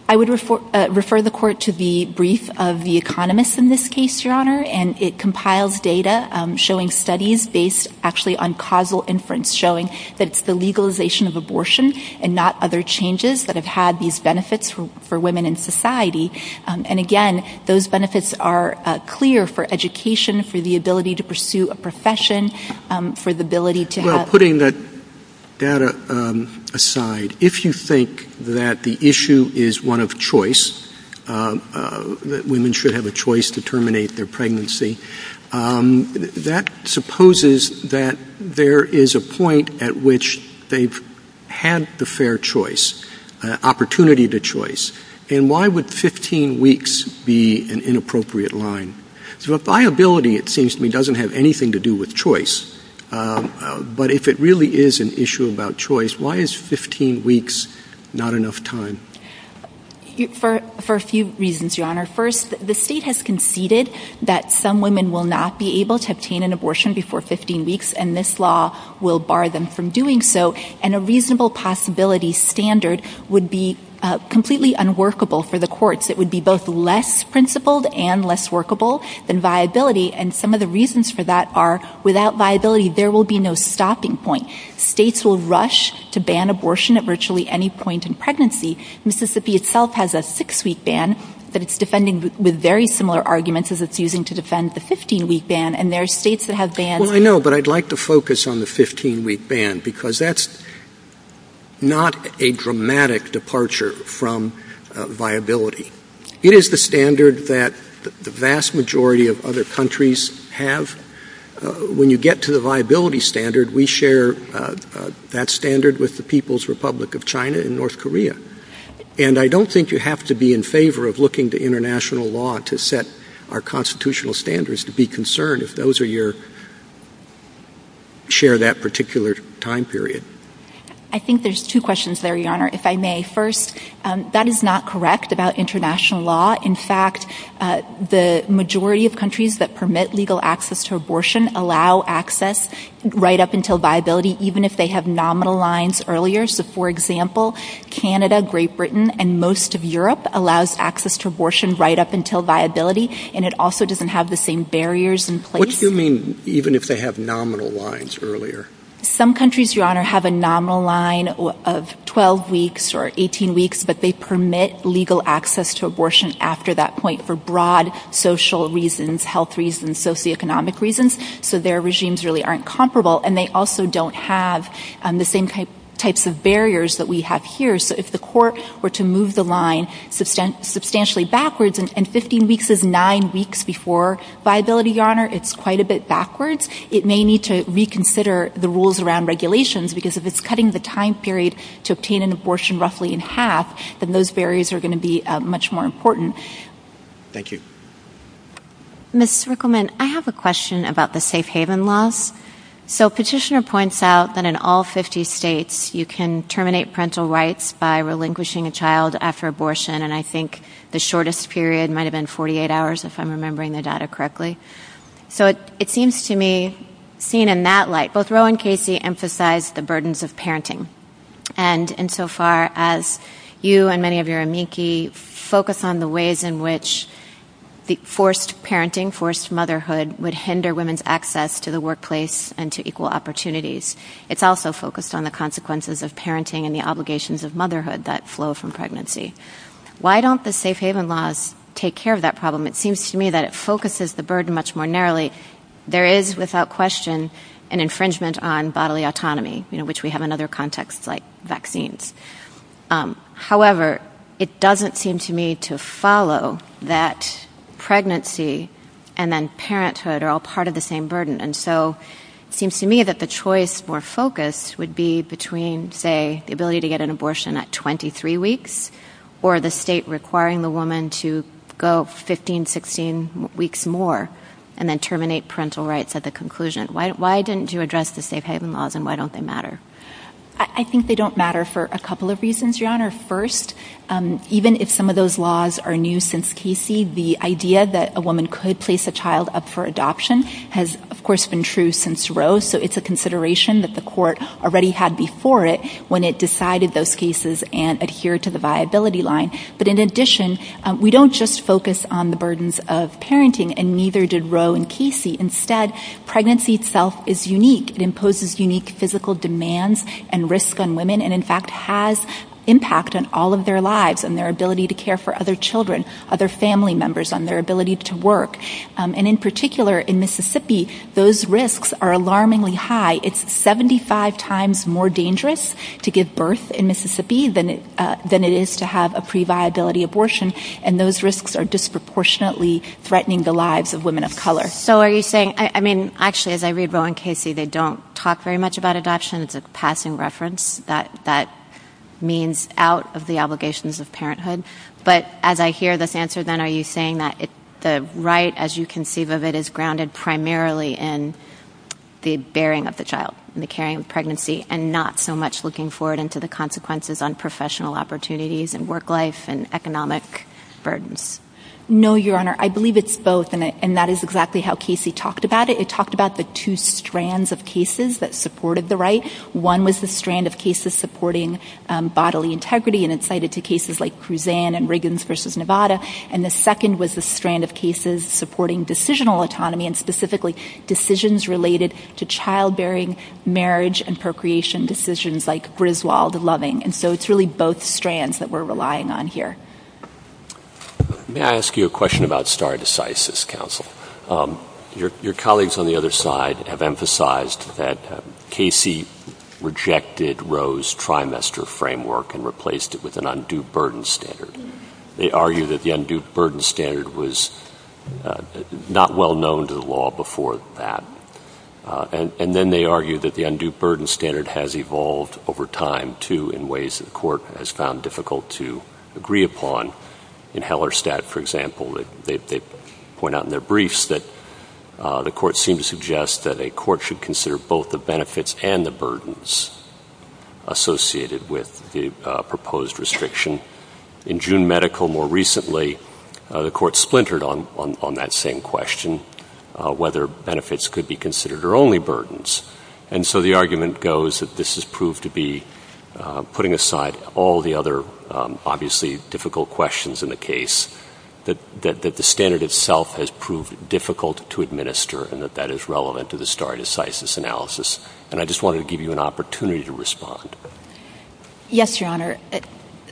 I would refer the court to the brief of the economist in this case, Your Honor, and it compiles data showing studies based actually on causal inference showing that it's the legalization of abortion and not other changes that have had these benefits for women in society. And, again, those benefits are clear for education, for the ability to pursue a profession, for the ability to have... Well, putting that data aside, if you think that the issue is one of choice, that women should have a choice to terminate their pregnancy, that supposes that there is a point at which they've had the fair choice, an opportunity to choice, and why would 15 weeks be an inappropriate line? So if viability, it seems to me, doesn't have anything to do with choice, but if it really is an issue about choice, why is 15 weeks not enough time? For a few reasons, Your Honor. First, the state has conceded that some women will not be able to obtain an abortion before 15 weeks, and this law will bar them from doing so, and a reasonable possibility standard would be completely unworkable for the courts. It would be both less principled and less workable than viability, and some of the reasons for that are, without viability, there will be no stopping point. States will rush to ban abortion at virtually any point in pregnancy. Mississippi itself has a six-week ban, but it's defending with very similar arguments as it's using to defend the 15-week ban, and there are states that have banned... Well, I know, but I'd like to focus on the 15-week ban, because that's not a dramatic departure from viability. It is the standard that the vast majority of other countries have. When you get to the viability standard, we share that standard with the People's Republic of China and North Korea, and I don't think you have to be in favor of looking to international law to set our constitutional standards to be concerned if those are your... share that particular time period. I think there's two questions there, Your Honor, if I may. First, that is not correct about international law. In fact, the majority of countries that permit legal access to abortion allow access right up until viability, even if they have nominal lines earlier. So, for example, Canada, Great Britain, and most of Europe allows access to abortion right up until viability, and it also doesn't have the same barriers in place. What do you mean, even if they have nominal lines earlier? Some countries, Your Honor, have a nominal line of 12 weeks or 18 weeks, but they permit legal access to abortion after that point for broad social reasons, health reasons, socioeconomic reasons, so their regimes really aren't comparable, and they also don't have the same types of barriers that we have here. So if the court were to move the line substantially backwards, and 15 weeks is nine weeks before viability, Your Honor, it's quite a bit backwards. It may need to reconsider the rules around regulations that those barriers are going to be much more important. Thank you. Ms. Rickleman, I have a question about the safe haven laws. So Petitioner points out that in all 50 states you can terminate parental rights by relinquishing a child after abortion, and I think the shortest period might have been 48 hours, if I'm remembering the data correctly. So it seems to me, seen in that light, both Roe and Casey emphasize the burdens of parenting. And insofar as you and many of your amici focus on the ways in which forced parenting, forced motherhood, would hinder women's access to the workplace and to equal opportunities, it's also focused on the consequences of parenting and the obligations of motherhood that flow from pregnancy. Why don't the safe haven laws take care of that problem? It seems to me that it focuses the burden much more narrowly. There is, without question, an infringement on bodily autonomy, which we have in other contexts like vaccines. However, it doesn't seem to me to follow that pregnancy and then parenthood are all part of the same burden. And so it seems to me that the choice, more focused, would be between, say, the ability to get an abortion at 23 weeks or the state requiring the woman to go 15, 16 weeks more and then terminate parental rights at the conclusion. Why didn't you address the safe haven laws and why don't they matter? I think they don't matter for a couple of reasons, Your Honor. First, even if some of those laws are new since Casey, the idea that a woman could place a child up for adoption has, of course, been true since Roe. So it's a consideration that the court already had before it when it decided those cases and adhered to the viability line. But in addition, we don't just focus on the burdens of parenting and neither did Roe and Casey. Instead, pregnancy itself is unique. It imposes unique physical demands and risks on women and, in fact, has impact on all of their lives, on their ability to care for other children, other family members, on their ability to work. And in particular, in Mississippi, those risks are alarmingly high. It's 75 times more dangerous to give birth in Mississippi than it is to have a pre-viability abortion, and those risks are disproportionately threatening the lives of women of color. So are you saying, I mean, actually, as I read Roe and Casey, they don't talk very much about adoption. It's a passing reference. That means out of the obligations of parenthood. But as I hear this answer, then, are you saying that the right, as you conceive of it, is grounded primarily in the bearing of the child and the caring of pregnancy and not so much looking forward into the consequences on professional opportunities and work life and economic burdens? No, Your Honor. I believe it's both, and that is exactly how Casey talked about it. It talked about the two strands of cases that supported the right. One was the strand of cases supporting bodily integrity, and it cited two cases like Cruzan and Riggins v. Nevada, and the second was the strand of cases supporting decisional autonomy and specifically decisions related to childbearing, marriage, and procreation decisions like Griswold and Loving. And so it's really both strands that we're relying on here. May I ask you a question about stare decisis, counsel? Your colleagues on the other side have emphasized that Casey rejected Roe's trimester framework and replaced it with an undue burden standard. They argue that the undue burden standard was not well known to the law before that, and then they argue that the undue burden standard has evolved over time, too, in ways the court has found difficult to agree upon. In Hellerstadt, for example, they point out in their briefs that the court seemed to suggest that a court should consider both the benefits and the burdens associated with the proposed restriction. In June medical, more recently, the court splintered on that same question, whether benefits could be considered or only burdens. And so the argument goes that this has proved to be, putting aside all the other obviously difficult questions in the case, that the standard itself has proved difficult to administer and that that is relevant to the stare decisis analysis. And I just wanted to give you an opportunity to respond. Yes, Your Honor.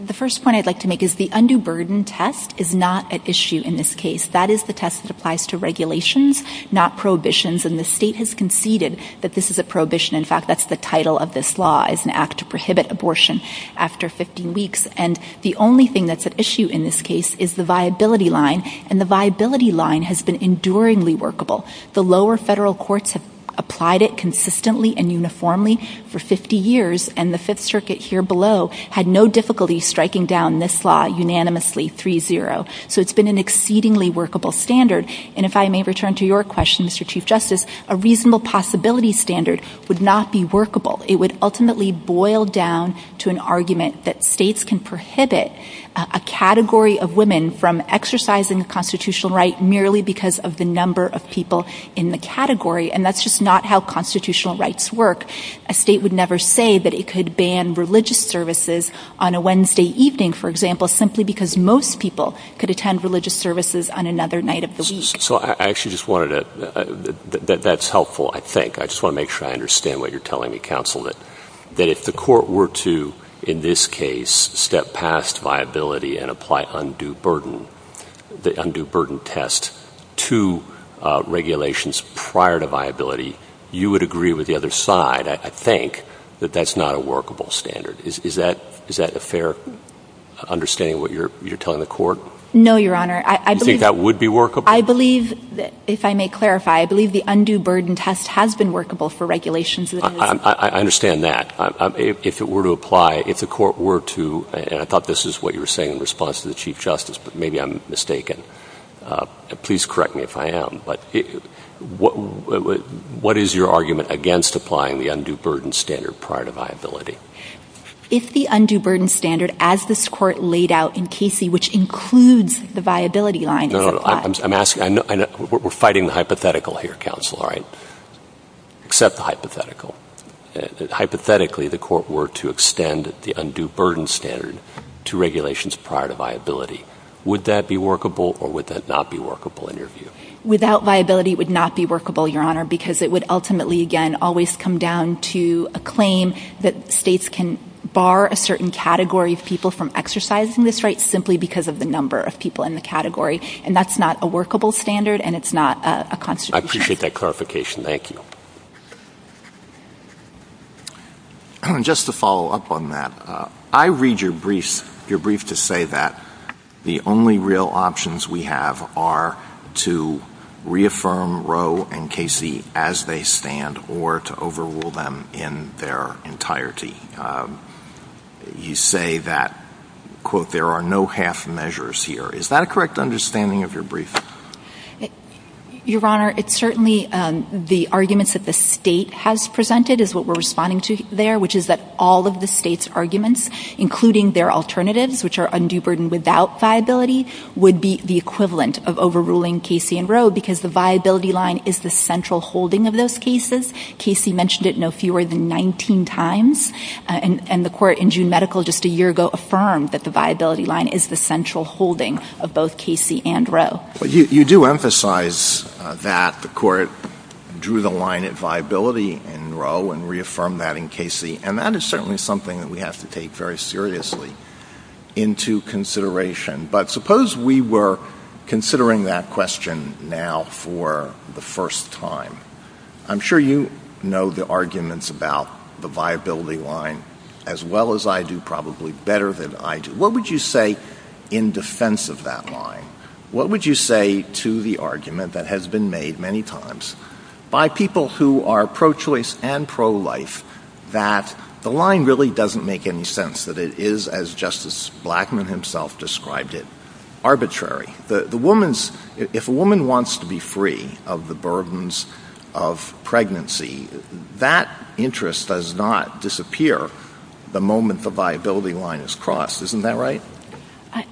The first point I'd like to make is the undue burden test is not at issue in this case. That is the test that applies to regulations, not prohibitions, and the state has conceded that this is a prohibition. In fact, that's the title of this law, is an act to prohibit abortion after 50 weeks. And the only thing that's at issue in this case is the viability line, and the viability line has been enduringly workable. The lower federal courts have applied it consistently and uniformly for 50 years, and the Fifth Circuit here below had no difficulty striking down this law unanimously, 3-0. So it's been an exceedingly workable standard. And if I may return to your question, Mr. Chief Justice, a reasonable possibility standard would not be workable. It would ultimately boil down to an argument that states can prohibit a category of women from exercising the constitutional right merely because of the number of people in the category, and that's just not how constitutional rights work. A state would never say that it could ban religious services on a Wednesday evening, for example, simply because most people could attend religious services on another night of the week. So I actually just wanted to – that's helpful, I think. I just want to make sure I understand what you're telling me, counsel, that if the court were to, in this case, step past viability and apply the undue burden test to regulations prior to viability, you would agree with the other side, I think, that that's not a workable standard. Is that a fair understanding of what you're telling the court? No, Your Honor. You think that would be workable? I believe, if I may clarify, I believe the undue burden test has been workable for regulations. I understand that. If it were to apply, if the court were to – and I thought this is what you were saying in response to the Chief Justice, but maybe I'm mistaken. Please correct me if I am. What is your argument against applying the undue burden standard prior to viability? It's the undue burden standard, as this Court laid out in Casey, which includes the viability line. No, no, I'm asking – we're fighting the hypothetical here, counsel, right? Except the hypothetical. Hypothetically, the court were to extend the undue burden standard to regulations prior to viability. Would that be workable or would that not be workable, in your view? Without viability, it would not be workable, Your Honor, because it would ultimately, again, always come down to a claim that states can bar a certain category of people from exercising this right simply because of the number of people in the category. And that's not a workable standard and it's not a constitutional standard. I appreciate that clarification. Thank you. Just to follow up on that, I read your brief to say that the only real options we have are to reaffirm Roe and Casey as they stand or to overrule them in their entirety. You say that, quote, there are no half measures here. Is that a correct understanding of your brief? Your Honor, it's certainly the arguments that the state has presented is what we're responding to there, which is that all of the state's arguments, including their alternatives, which are undue burden without viability, would be the equivalent of overruling Casey and Roe because the viability line is the central holding of those cases. Casey mentioned it no fewer than 19 times, and the court in June medical just a year ago affirmed that the viability line is the central holding of both Casey and Roe. You do emphasize that the court drew the line at viability in Roe and reaffirmed that in Casey, and that is certainly something that we have to take very seriously into consideration. But suppose we were considering that question now for the first time. I'm sure you know the arguments about the viability line as well as I do, probably better than I do. What would you say in defense of that line? What would you say to the argument that has been made many times by people who are pro-choice and pro-life that the line really doesn't make any sense, that it is, as Justice Blackmun himself described it, arbitrary? If a woman wants to be free of the burdens of pregnancy, that interest does not disappear the moment the viability line is crossed. Isn't that right?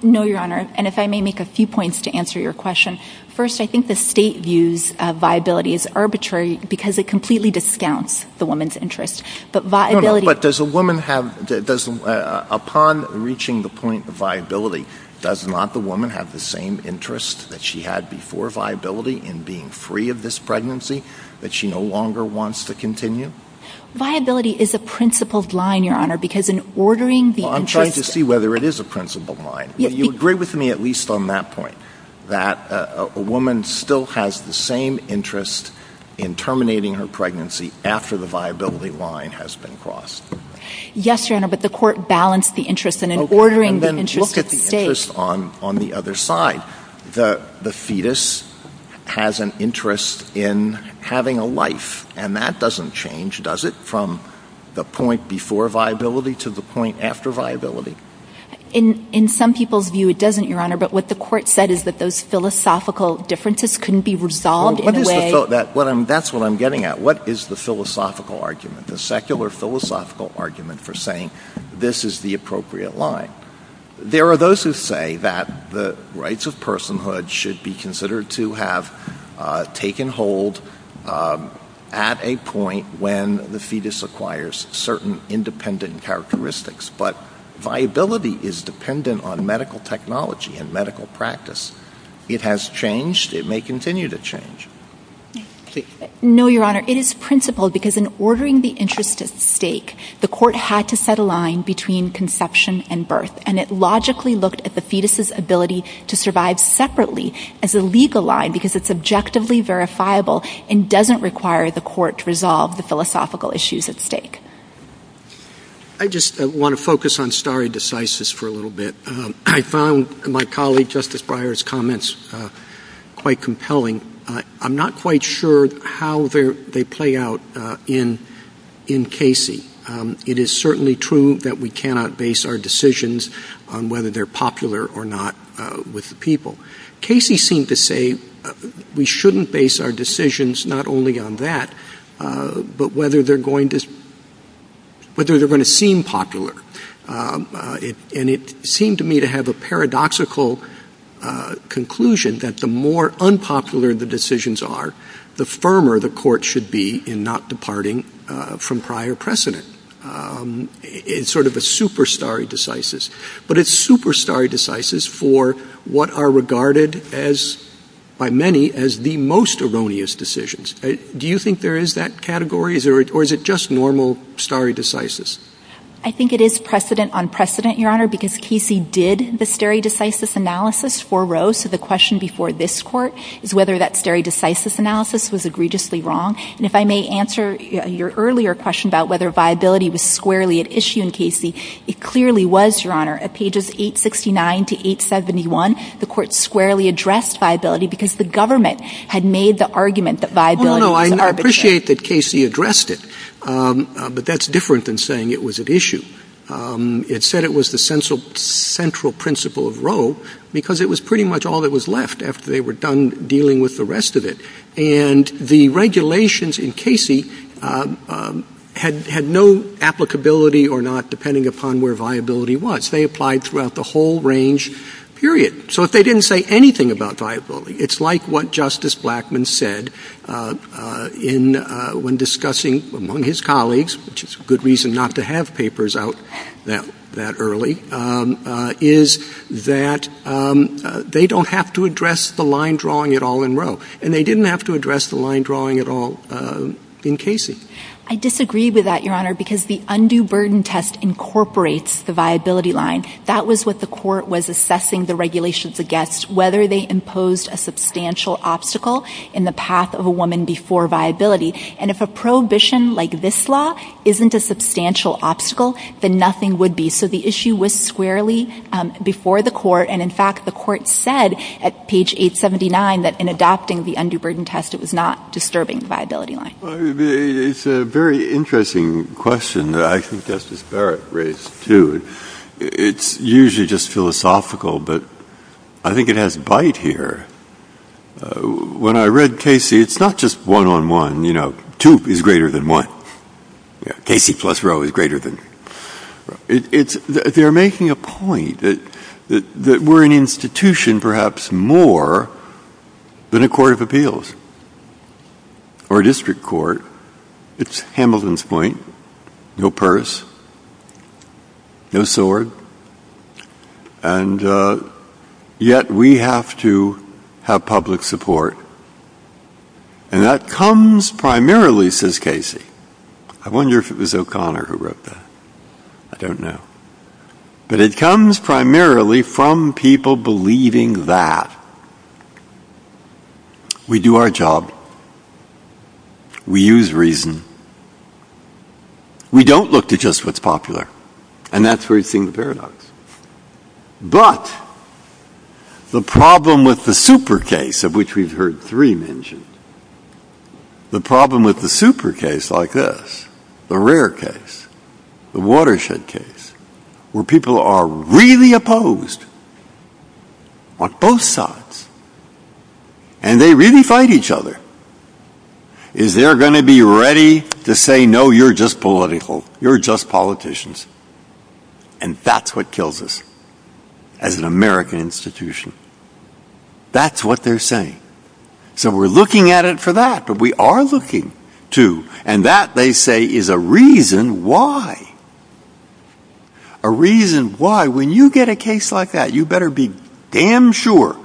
No, Your Honor, and if I may make a few points to answer your question. First, I think the state views viability as arbitrary because it completely discounts the woman's interest. No, no, but does a woman have, upon reaching the point of viability, does not the woman have the same interest that she had before viability in being free of this pregnancy that she no longer wants to continue? Viability is a principled line, Your Honor, because in ordering the interest... Well, I'm trying to see whether it is a principled line. You agree with me at least on that point, that a woman still has the same interest in terminating her pregnancy after the viability line has been crossed. Yes, Your Honor, but the court balanced the interest in ordering the interest of the state. Okay, then look at the interest on the other side. The fetus has an interest in having a life, and that doesn't change, does it, from the point before viability to the point after viability? In some people's view, it doesn't, Your Honor, but what the court said is that those philosophical differences can be resolved in a way... That's what I'm getting at. What is the philosophical argument, the secular philosophical argument for saying this is the appropriate line? There are those who say that the rights of personhood should be considered to have taken hold at a point when the fetus acquires certain independent characteristics, but viability is dependent on medical technology and medical practice. It has changed. It may continue to change. No, Your Honor, it is principled because in ordering the interest at stake, the court had to set a line between conception and birth, and it logically looked at the fetus's ability to survive separately as a legal line because it's objectively verifiable and doesn't require the court to resolve the philosophical issues at stake. I just want to focus on stare decisis for a little bit. I found my colleague Justice Breyer's comments quite compelling. I'm not quite sure how they play out in Casey. It is certainly true that we cannot base our decisions on whether they're popular or not with the people. Casey seemed to say we shouldn't base our decisions not only on that, but whether they're going to seem popular. And it seemed to me to have a paradoxical conclusion that the more unpopular the decisions are, the firmer the court should be in not departing from prior precedent. It's sort of a superstare decisis. But it's superstare decisis for what are regarded by many as the most erroneous decisions. Do you think there is that category, or is it just normal stare decisis? I think it is precedent on precedent, Your Honor, because Casey did the stare decisis analysis for Rose. So the question before this court is whether that stare decisis analysis was egregiously wrong. And if I may answer your earlier question about whether viability was squarely at issue in Casey, it clearly was, Your Honor. At pages 869 to 871, the court squarely addressed viability because the government had made the argument that viability was arbitrary. I appreciate that Casey addressed it, but that's different than saying it was at issue. It said it was the central principle of Rose because it was pretty much all that was left after they were done dealing with the rest of it. And the regulations in Casey had no applicability or not depending upon where viability was. They applied throughout the whole range, period. So they didn't say anything about viability. It's like what Justice Blackmun said when discussing among his colleagues, which is a good reason not to have papers out that early, is that they don't have to address the line drawing at all in Rose. And they didn't have to address the line drawing at all in Casey. I disagree with that, Your Honor, because the undue burden test incorporates the viability line. That was what the court was assessing the regulations against, whether they imposed a substantial obstacle in the path of a woman before viability. And if a prohibition like this law isn't a substantial obstacle, then nothing would be. So the issue was squarely before the court. And, in fact, the court said at page 879 that in adopting the undue burden test, it was not disturbing the viability line. It's a very interesting question that I think Justice Barrett raised too. It's usually just philosophical, but I think it has bite here. When I read Casey, it's not just one-on-one, you know, two is greater than one. Casey plus Roe is greater than. They're making a point that we're an institution perhaps more than a court of appeals or a district court. It's Hamilton's point. No purse. No sword. And yet we have to have public support. And that comes primarily, says Casey. I wonder if it was O'Connor who wrote that. I don't know. But it comes primarily from people believing that. We do our job. We use reason. We don't look to just what's popular. And that's where you see the paradox. But the problem with the super case of which we've heard three mentioned, the problem with the super case like this, the rare case, the watershed case, where people are really opposed on both sides, and they really fight each other, is they're going to be ready to say, no, you're just political. You're just politicians. And that's what kills us as an American institution. That's what they're saying. So we're looking at it for that. But we are looking to. And that, they say, is a reason why. A reason why. When you get a case like that, you better be damn sure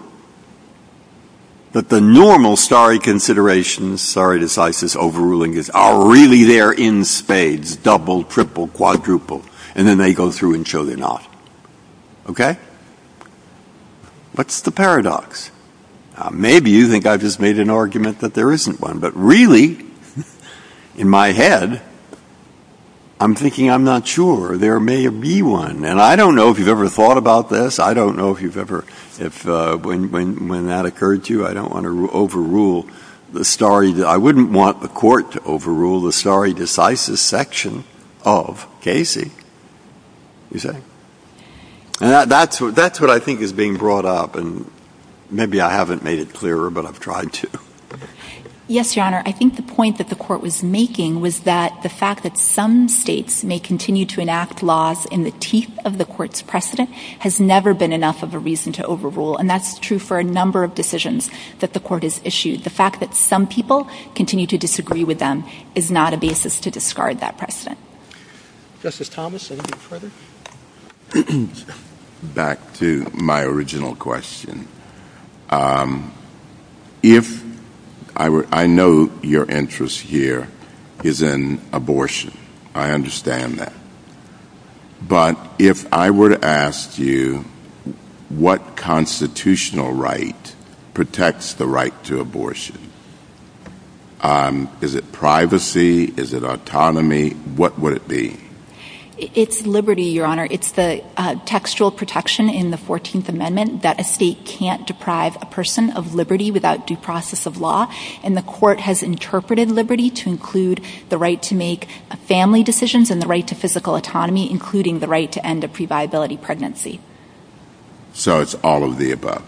that the normal sorry considerations, sorry to slice this overruling, are really there in spades. Double, triple, quadruple. And then they go through and show they're not. Okay? What's the paradox? Maybe you think I just made an argument that there isn't one. But really, in my head, I'm thinking I'm not sure. There may be one. And I don't know if you've ever thought about this. I don't know if you've ever, when that occurred to you. I don't want to overrule the sorry. I wouldn't want the court to overrule the sorry to slice this section of Casey. That's what I think is being brought up. Maybe I haven't made it clearer, but I've tried to. Yes, Your Honor. I think the point that the court was making was that the fact that some states may continue to enact laws in the teeth of the court's precedent has never been enough of a reason to overrule. And that's true for a number of decisions that the court has issued. The fact that some people continue to disagree with them is not a basis to discard that precedent. Justice Thomas, anything further? Back to my original question. I know your interest here is in abortion. I understand that. But if I were to ask you what constitutional right protects the right to abortion, is it privacy? Is it autonomy? What would it be? It's liberty, Your Honor. It's the textual protection in the 14th Amendment that a state can't deprive a person of liberty without due process of law. And the court has interpreted liberty to include the right to make family decisions and the right to physical autonomy, including the right to end a previability pregnancy. So it's all of the above.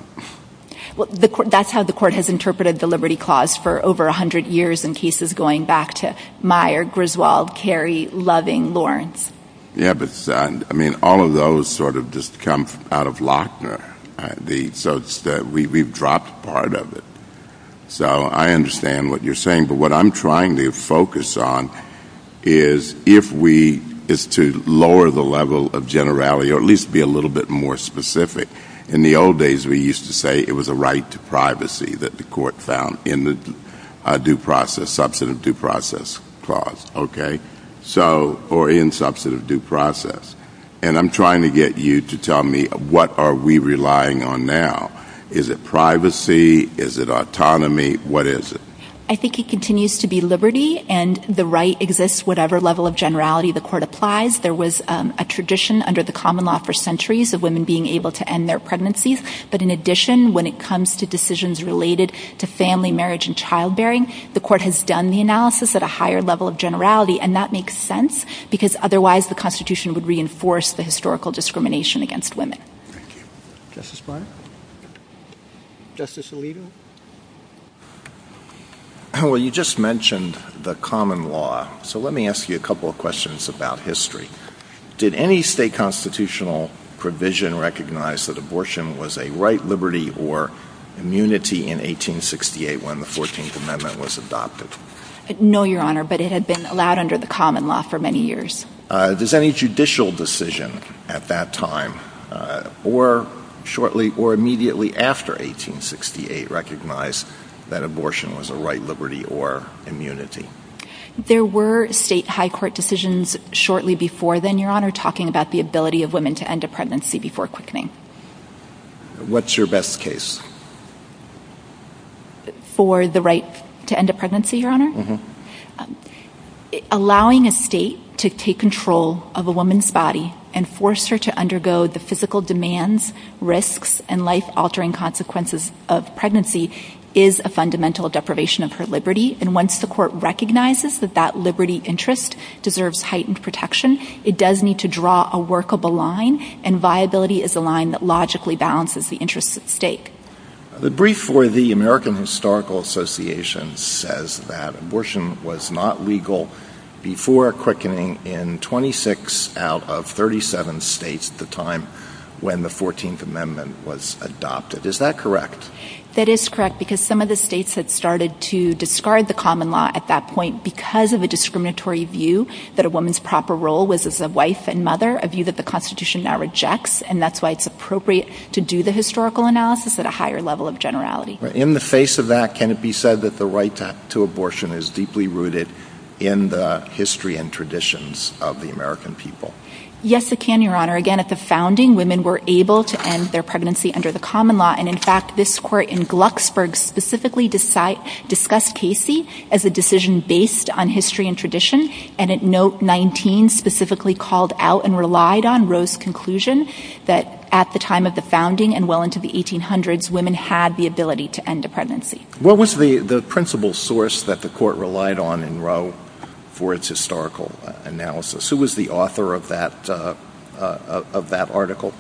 That's how the court has interpreted the Liberty Clause for over 100 years in cases going back to Meyer, Griswold, Carey, Loving, Lawrence. Yeah, but all of those sort of just come out of Lochner. So we've dropped part of it. So I understand what you're saying. But what I'm trying to focus on is to lower the level of generality or at least be a little bit more specific. In the old days, we used to say it was a right to privacy that the court found in the substantive due process clause or in substantive due process. And I'm trying to get you to tell me what are we relying on now. Is it privacy? Is it autonomy? What is it? I think it continues to be liberty and the right exists whatever level of generality the court applies. There was a tradition under the common law for centuries of women being able to end their pregnancies. But in addition, when it comes to decisions related to family, marriage, and childbearing, the court has done the analysis at a higher level of generality. And that makes sense because otherwise the Constitution would reinforce the historical discrimination against women. Thank you. Justice Breyer? Justice Alito? Well, you just mentioned the common law. So let me ask you a couple of questions about history. Did any state constitutional provision recognize that abortion was a right, liberty, or immunity in 1868 when the 14th Amendment was adopted? No, Your Honor, but it had been allowed under the common law for many years. Does any judicial decision at that time or shortly or immediately after 1868 recognize that abortion was a right, liberty, or immunity? There were state high court decisions shortly before then, Your Honor, talking about the ability of women to end a pregnancy before quickening. What's your best case? For the right to end a pregnancy, Your Honor? Allowing a state to take control of a woman's body and force her to undergo the physical demands, risks, and life-altering consequences of pregnancy is a fundamental deprivation of her liberty. And once the court recognizes that that liberty interest deserves heightened protection, it does need to draw a workable line, and viability is a line that logically balances the interest at stake. The brief for the American Historical Association says that abortion was not legal before quickening in 26 out of 37 states at the time when the 14th Amendment was adopted. Is that correct? That is correct, because some of the states had started to discard the common law at that point because of a discriminatory view that a woman's proper role was as a wife and mother, a view that the Constitution now rejects, and that's why it's appropriate to do the historical analysis at a higher level of generality. In the face of that, can it be said that the right to abortion is deeply rooted in the history and traditions of the American people? Yes, it can, Your Honor. Again, at the founding, women were able to end their pregnancy under the common law, and in fact, this court in Glucksburg specifically discussed Casey as a decision based on history and tradition, and at note 19 specifically called out and relied on Roe's conclusion that at the time of the founding and well into the 1800s, women had the ability to end a pregnancy. What was the principal source that the court relied on in Roe for its historical analysis? Who was the author of that article?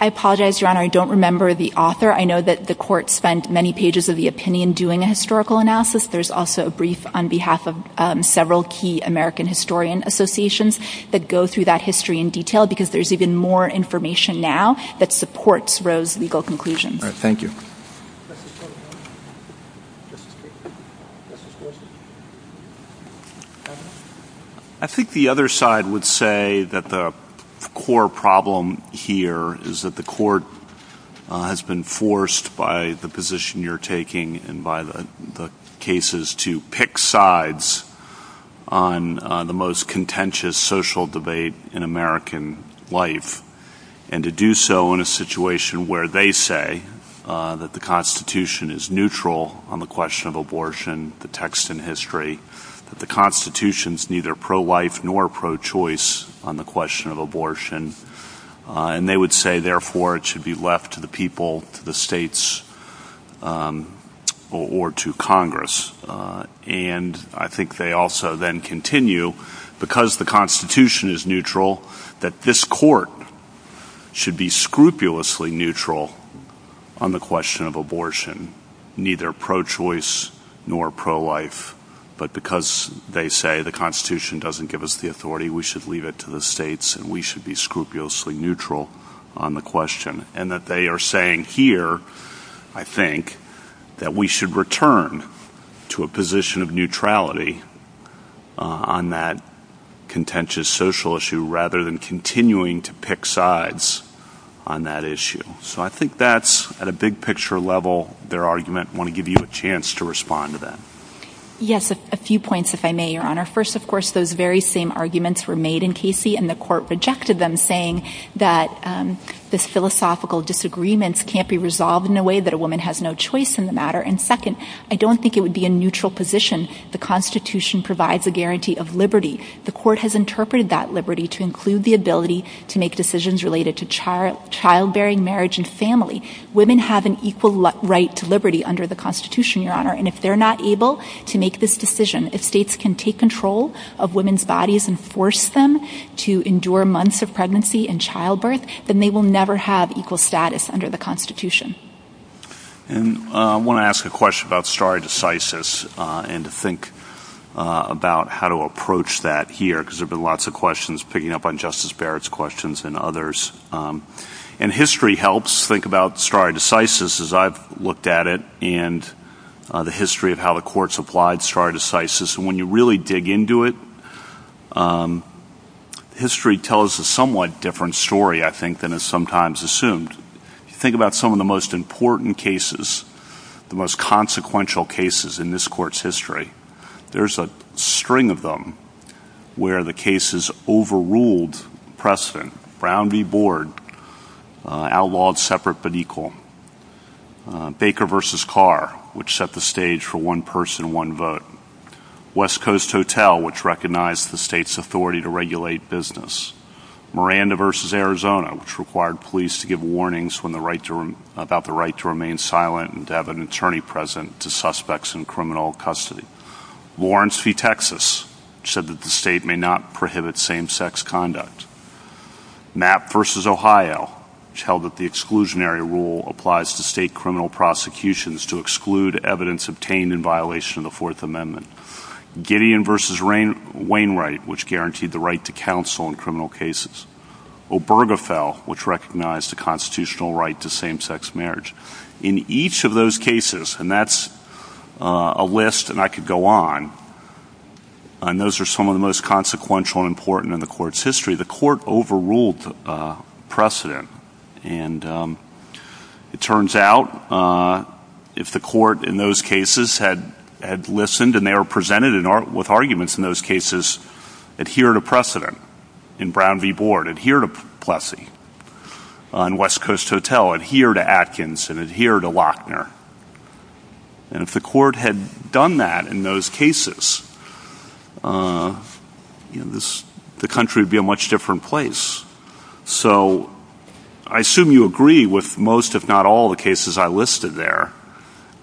I apologize, Your Honor, I don't remember the author. I know that the court spent many pages of the opinion doing a historical analysis. There's also a brief on behalf of several key American historian associations that go through that history in detail because there's even more information now that supports Roe's legal conclusion. Thank you. I think the other side would say that the core problem here is that the court has been forced by the position you're taking and by the cases to pick sides on the most contentious social debate in American life, and to do so in a situation where they say that the Constitution is neutral on the question of abortion, the text in history, that the Constitution is neither pro-life nor pro-choice on the question of abortion, and they would say, therefore, it should be left to the people, the states, or to Congress. And I think they also then continue, because the Constitution is neutral, that this court should be scrupulously neutral on the question of abortion, neither pro-choice nor pro-life, but because they say the Constitution doesn't give us the authority, we should leave it to the states and we should be scrupulously neutral on the question. And that they are saying here, I think, that we should return to a position of neutrality on that contentious social issue rather than continuing to pick sides on that issue. So I think that's, at a big picture level, their argument. I want to give you a chance to respond to that. Yes, a few points, if I may, Your Honor. First, of course, those very same arguments were made in Casey, and the court rejected them, saying that the philosophical disagreements can't be resolved in a way that a woman has no choice in the matter. And second, I don't think it would be a neutral position. The Constitution provides a guarantee of liberty. The court has interpreted that liberty to include the ability to make decisions related to childbearing, marriage, and family. Women have an equal right to liberty under the Constitution, Your Honor. And if they're not able to make this decision, if states can take control of women's bodies and force them to endure months of pregnancy and childbirth, then they will never have equal status under the Constitution. And I want to ask a question about stare decisis and to think about how to approach that here, because there have been lots of questions picking up on Justice Barrett's questions and others. And history helps. Think about stare decisis, as I've looked at it, and the history of how the courts applied stare decisis. And when you really dig into it, history tells a somewhat different story, I think, than is sometimes assumed. Think about some of the most important cases, the most consequential cases in this court's history. There's a string of them where the cases overruled precedent. Brown v. Board, outlawed separate but equal. Baker v. Carr, which set the stage for one person, one vote. West Coast Hotel, which recognized the state's authority to regulate business. Miranda v. Arizona, which required police to give warnings about the right to remain silent and to have an attorney present to suspects in criminal custody. Lawrence v. Texas, which said that the state may not prohibit same-sex conduct. Knapp v. Ohio, which held that the exclusionary rule applies to state criminal prosecutions to exclude evidence obtained in violation of the Fourth Amendment. Gideon v. Wainwright, which guaranteed the right to counsel in criminal cases. Obergefell, which recognized the constitutional right to same-sex marriage. In each of those cases, and that's a list, and I could go on, and those are some of the most consequential and important in the court's history, the court overruled precedent. And it turns out, if the court in those cases had listened and they were presented with arguments in those cases, adhere to precedent. In Brown v. Board, adhere to Plessy. On West Coast Hotel, adhere to Atkins and adhere to Lochner. And if the court had done that in those cases, the country would be a much different place. So I assume you agree with most, if not all, the cases I listed there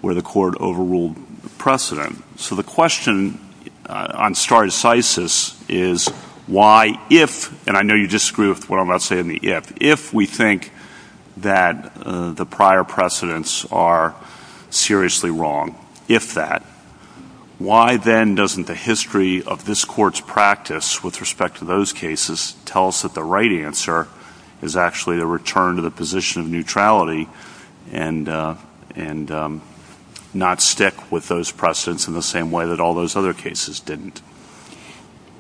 where the court overruled precedent. So the question on stare decisis is why, if, and I know you disagree with what I'm about to say in the if, if we think that the prior precedents are seriously wrong, if that, why then doesn't the history of this court's practice with respect to those cases tell us that the right answer is actually a return to the position of neutrality and not stick with those precedents in the same way that all those other cases didn't?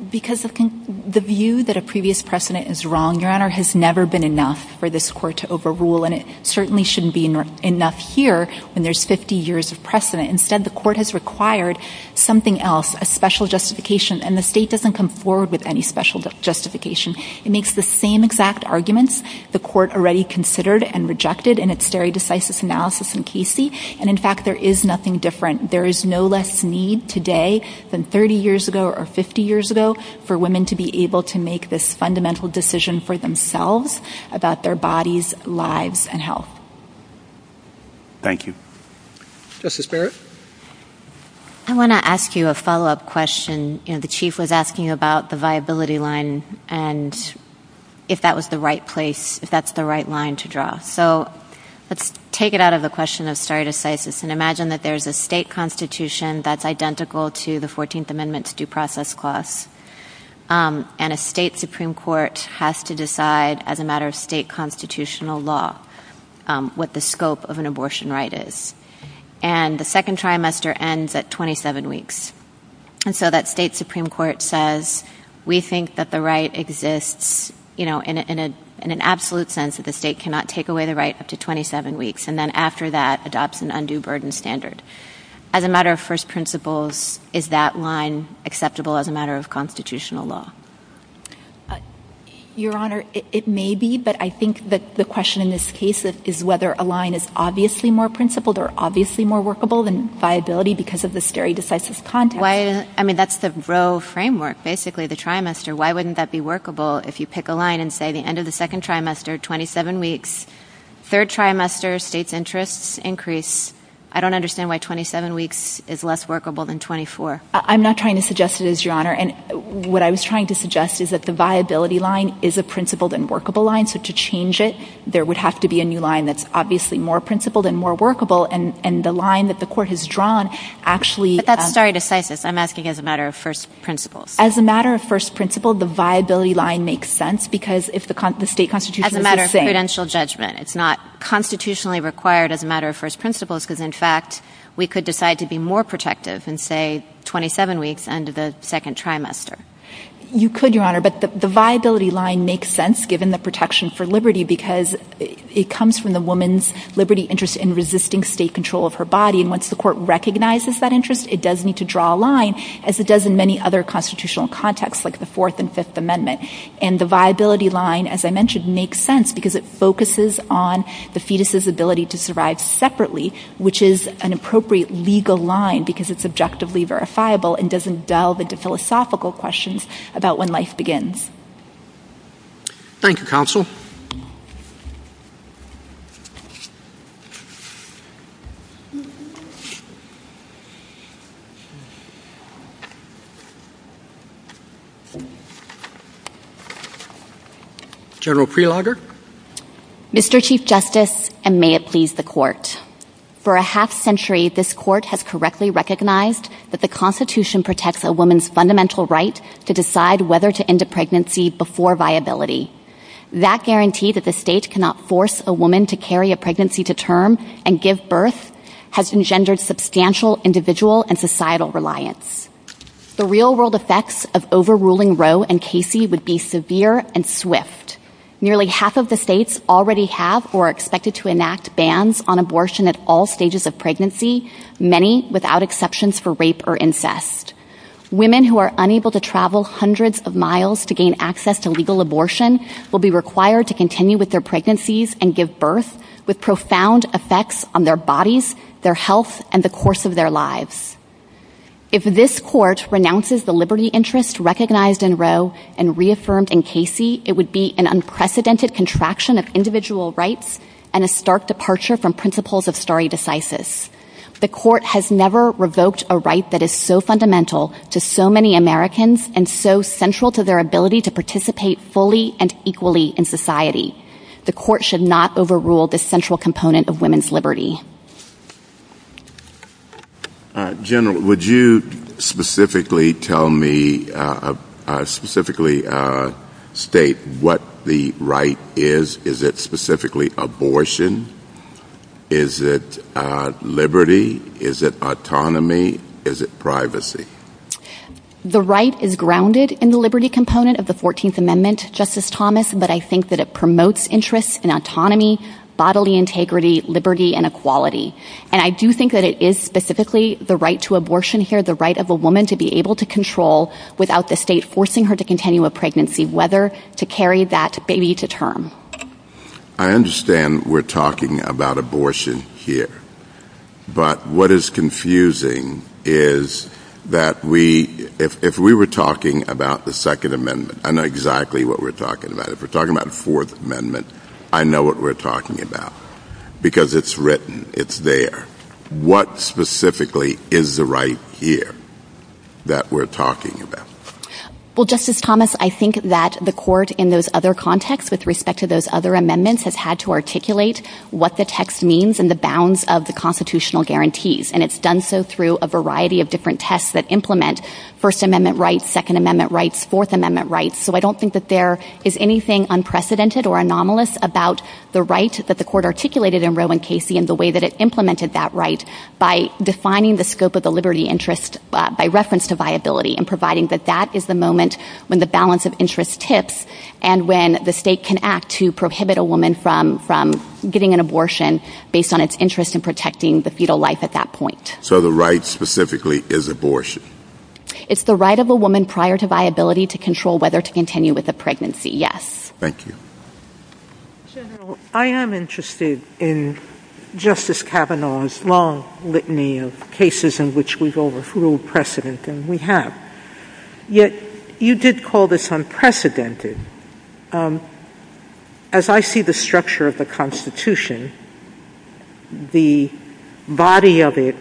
Because the view that a previous precedent is wrong, Your Honor, has never been enough for this court to overrule, and it certainly shouldn't be enough here when there's 50 years of precedent. Instead, the court has required something else, a special justification, and the state doesn't come forward with any special justification. It makes the same exact arguments the court already considered and rejected in its stare decisis analysis in Casey, and in fact there is nothing different. There is no less need today than 30 years ago or 50 years ago for women to be able to make this fundamental decision for themselves about their bodies, lives, and health. Thank you. Justice Barrett? I want to ask you a follow-up question. You know, the Chief was asking about the viability line and if that was the right place, if that's the right line to draw. So let's take it out of the question of stare decisis and imagine that there's a state constitution that's identical to the 14th Amendment's due process clause, and a state Supreme Court has to decide as a matter of state constitutional law what the scope of an abortion right is. And the second trimester ends at 27 weeks, and so that state Supreme Court says, we think that the right exists in an absolute sense that the state cannot take away the right up to 27 weeks, and then after that adopts an undue burden standard. As a matter of first principles, is that line acceptable as a matter of constitutional law? Your Honor, it may be, but I think that the question in this case is whether a line is obviously more principled or obviously more workable than viability because of the stare decisis context. I mean, that's the row framework, basically, the trimester. Why wouldn't that be workable if you pick a line and say the end of the second trimester, 27 weeks. Third trimester, states' interests increase. I don't understand why 27 weeks is less workable than 24. I'm not trying to suggest it is, Your Honor, and what I was trying to suggest is that the viability line is a principled and workable line, so to change it, there would have to be a new line that's obviously more principled and more workable, and the line that the court has drawn actually... But that's stare decisis. I'm asking as a matter of first principles. As a matter of first principles, the viability line makes sense because if the state constitution... As a matter of credential judgment, it's not constitutionally required as a matter of first principles because, in fact, we could decide to be more protective and say 27 weeks, end of the second trimester. You could, Your Honor, but the viability line makes sense given the protection for liberty because it comes from the woman's liberty interest in resisting state control of her body, and once the court recognizes that interest, it does need to draw a line as it does in many other constitutional contexts like the Fourth and Fifth Amendment, and the viability line, as I mentioned, makes sense because it focuses on the fetus's ability to survive separately, which is an appropriate legal line because it's objectively verifiable and doesn't delve into philosophical questions about when life begins. Thank you, counsel. General Prelogar. Mr. Chief Justice, and may it please the court. For a half-century, this court has correctly recognized that the Constitution protects a woman's fundamental right to decide whether to end a pregnancy before viability. That guarantee that the state cannot force a woman to carry a pregnancy to term and give birth has engendered substantial individual and societal reliance. The real-world effects of overruling Roe and Casey would be severe and swift. Nearly half of the states already have or are expected to enact bans on abortion at all stages of pregnancy, many without exceptions for rape or incest. Women who are unable to travel hundreds of miles to gain access to legal abortion will be required to continue with their pregnancies and give birth, with profound effects on their bodies, their health, and the course of their lives. If this court renounces the liberty interest recognized in Roe and reaffirmed in Casey, it would be an unprecedented contraction of individual rights and a stark departure from principles of stare decisis. The court has never revoked a right that is so fundamental to so many Americans and so central to their ability to participate fully and equally in society. The court should not overrule this central component of women's liberty. General, would you specifically state what the right is? Is it specifically abortion? Is it liberty? Is it autonomy? Is it privacy? The right is grounded in the liberty component of the 14th Amendment, Justice Thomas, but I think that it promotes interests in autonomy, bodily integrity, liberty, and equality. And I do think that it is specifically the right to abortion here, the right of a woman to be able to control without the state forcing her to continue a pregnancy, whether to carry that baby to term. I understand we're talking about abortion here. But what is confusing is that if we were talking about the Second Amendment, I know exactly what we're talking about. If we're talking about the Fourth Amendment, I know what we're talking about. Because it's written, it's there. What specifically is the right here that we're talking about? Well, Justice Thomas, I think that the court in those other contexts, with respect to those other amendments, has had to articulate what the text means and the bounds of the constitutional guarantees. And it's done so through a variety of different tests that implement First Amendment rights, Second Amendment rights, Fourth Amendment rights. So I don't think that there is anything unprecedented or anomalous about the right that the court articulated in Roe v. Casey and the way that it implemented that right by defining the scope of the liberty interest by reference to viability and providing that that is the moment when the balance of interest tips and when the state can act to prohibit a woman from getting an abortion based on its interest in protecting the fetal life at that point. So the right specifically is abortion? It's the right of a woman prior to viability to control whether to continue with the pregnancy, yes. Thank you. General, I am interested in Justice Kavanaugh's long litany of cases in which we've overthrown precedent, and we have. Yet, you did call this unprecedented. As I see the structure of the Constitution, the body of it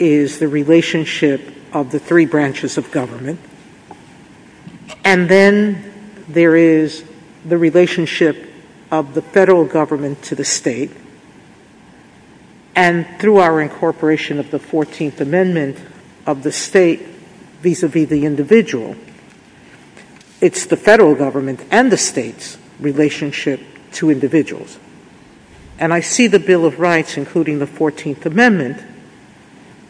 is the relationship of the three branches of government. And then there is the relationship of the federal government to the state. And through our incorporation of the 14th Amendment of the state vis-à-vis the individual, it's the federal government and the state's relationship to individuals. And I see the Bill of Rights, including the 14th Amendment,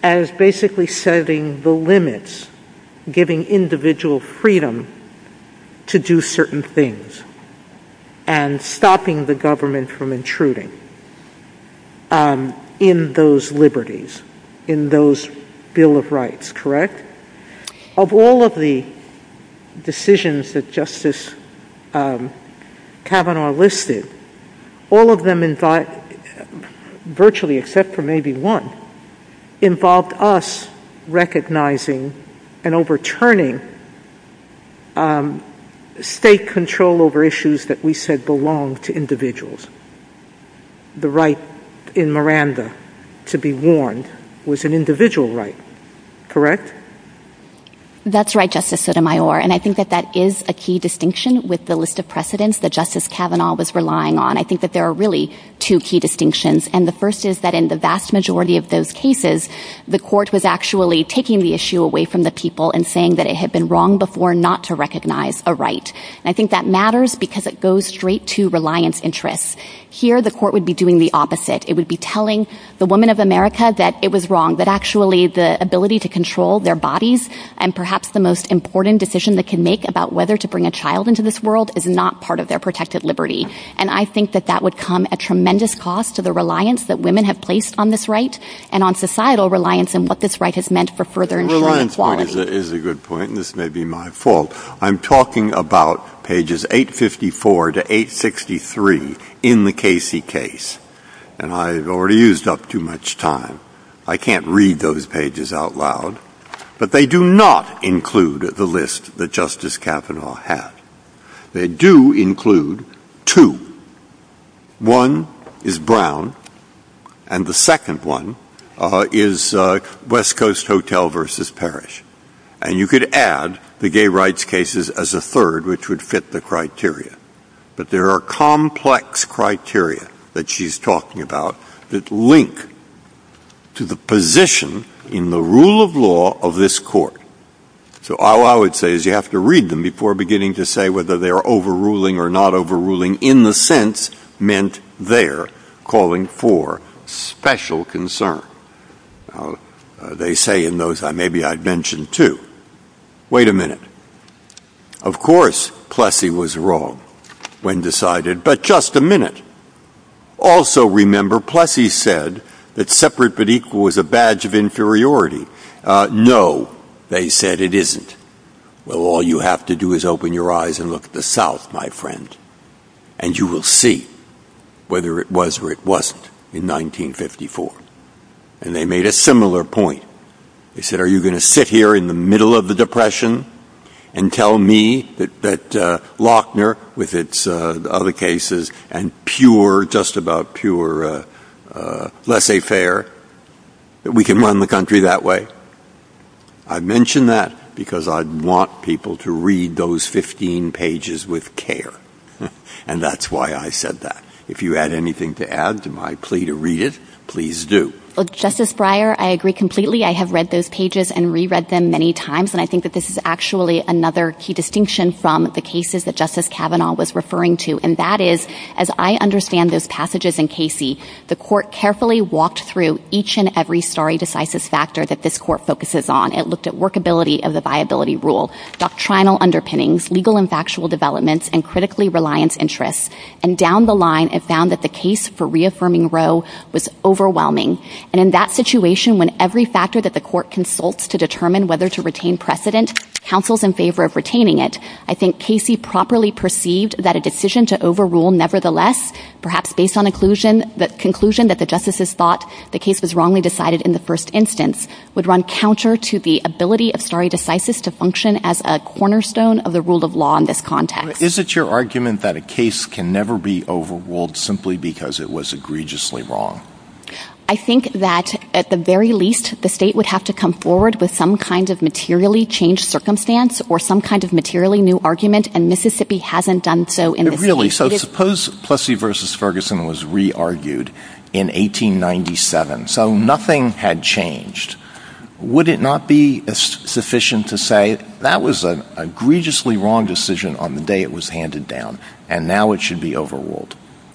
as basically setting the limits, giving individual freedom to do certain things and stopping the government from intruding in those liberties, in those Bill of Rights, correct? Of all of the decisions that Justice Kavanaugh listed, all of them, virtually except for maybe one, involved us recognizing and overturning state control over issues that we said belonged to individuals. The right in Miranda to be warned was an individual right, correct? That's right, Justice Sotomayor. And I think that that is a key distinction with the list of precedents that Justice Kavanaugh was relying on. I think that there are really two key distinctions. And the first is that in the vast majority of those cases, the court was actually taking the issue away from the people and saying that it had been wrong before not to recognize a right. And I think that matters because it goes straight to reliance interests. Here, the court would be doing the opposite. It would be telling the woman of America that it was wrong, that actually the ability to control their bodies and perhaps the most important decision they can make about whether to bring a child into this world is not part of their protected liberty. And I think that that would come at tremendous cost to the reliance that women have placed on this right and on societal reliance on what this right has meant for further and greater equality. Reliance is a good point, and this may be my fault. I'm talking about pages 854 to 863 in the Casey case, and I've already used up too much time. I can't read those pages out loud. But they do not include the list that Justice Kavanaugh had. They do include two. One is Brown, and the second one is West Coast Hotel versus Parish. And you could add the gay rights cases as a third, which would fit the criteria. But there are complex criteria that she's talking about that link to the position in the rule of law of this court. So all I would say is you have to read them before beginning to say whether they're overruling or not overruling in the sense meant they're calling for special concern. They say in those, maybe I'd mention two. Wait a minute. Of course, Plessy was wrong when decided, but just a minute. Also remember, Plessy said that separate but equal was a badge of inferiority. No, they said it isn't. Well, all you have to do is open your eyes and look at the South, my friend, and you will see whether it was or it wasn't in 1954. And they made a similar point. They said, are you going to sit here in the middle of the Depression and tell me that Lockner, with its other cases and pure, just about pure laissez-faire, that we can run the country that way? I'd mention that because I'd want people to read those 15 pages with care. And that's why I said that. If you had anything to add to my plea to read it, please do. Well, Justice Breyer, I agree completely. I have read those pages and reread them many times, and I think that this is actually another key distinction from the cases that Justice Kavanaugh was referring to. And that is, as I understand those passages in Casey, the court carefully walked through each and every stare decisis factor that this court focuses on. It looked at workability of the viability rule, doctrinal underpinnings, legal and factual developments, and critically reliant interests. And down the line, it found that the case for reaffirming Roe was overwhelming. And in that situation, when every factor that the court consults to determine whether to retain precedent counsels in favor of retaining it, I think Casey properly perceived that a decision to overrule nevertheless, perhaps based on the conclusion that the justices thought the case was wrongly decided in the first instance, would run counter to the ability of stare decisis to function as a cornerstone of the rule of law in this context. Is it your argument that a case can never be overruled simply because it was egregiously wrong? I think that at the very least, the state would have to come forward with some kind of materially changed circumstance or some kind of materially new argument, and Mississippi hasn't done so. Really? So suppose Plessy v. Ferguson was re-argued in 1897, so nothing had changed. Would it not be sufficient to say that was an egregiously wrong decision on the day it was handed down, and now it should be overruled?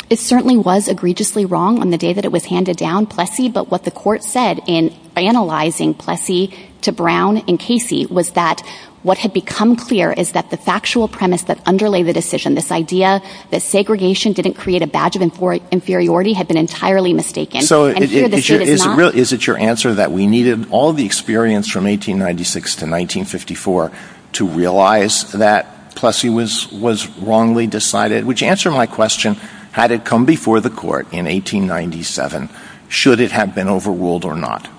It certainly was egregiously wrong on the day that it was handed down, Plessy, but what the court said in analyzing Plessy to Brown and Casey was that what had become clear is that the factual premise that underlay the decision, this idea that segregation didn't create a badge of inferiority, had been entirely mistaken. So is it your answer that we needed all the experience from 1896 to 1954 to realize that Plessy was wrongly decided, which answers my question, had it come before the court in 1897, should it have been overruled or not?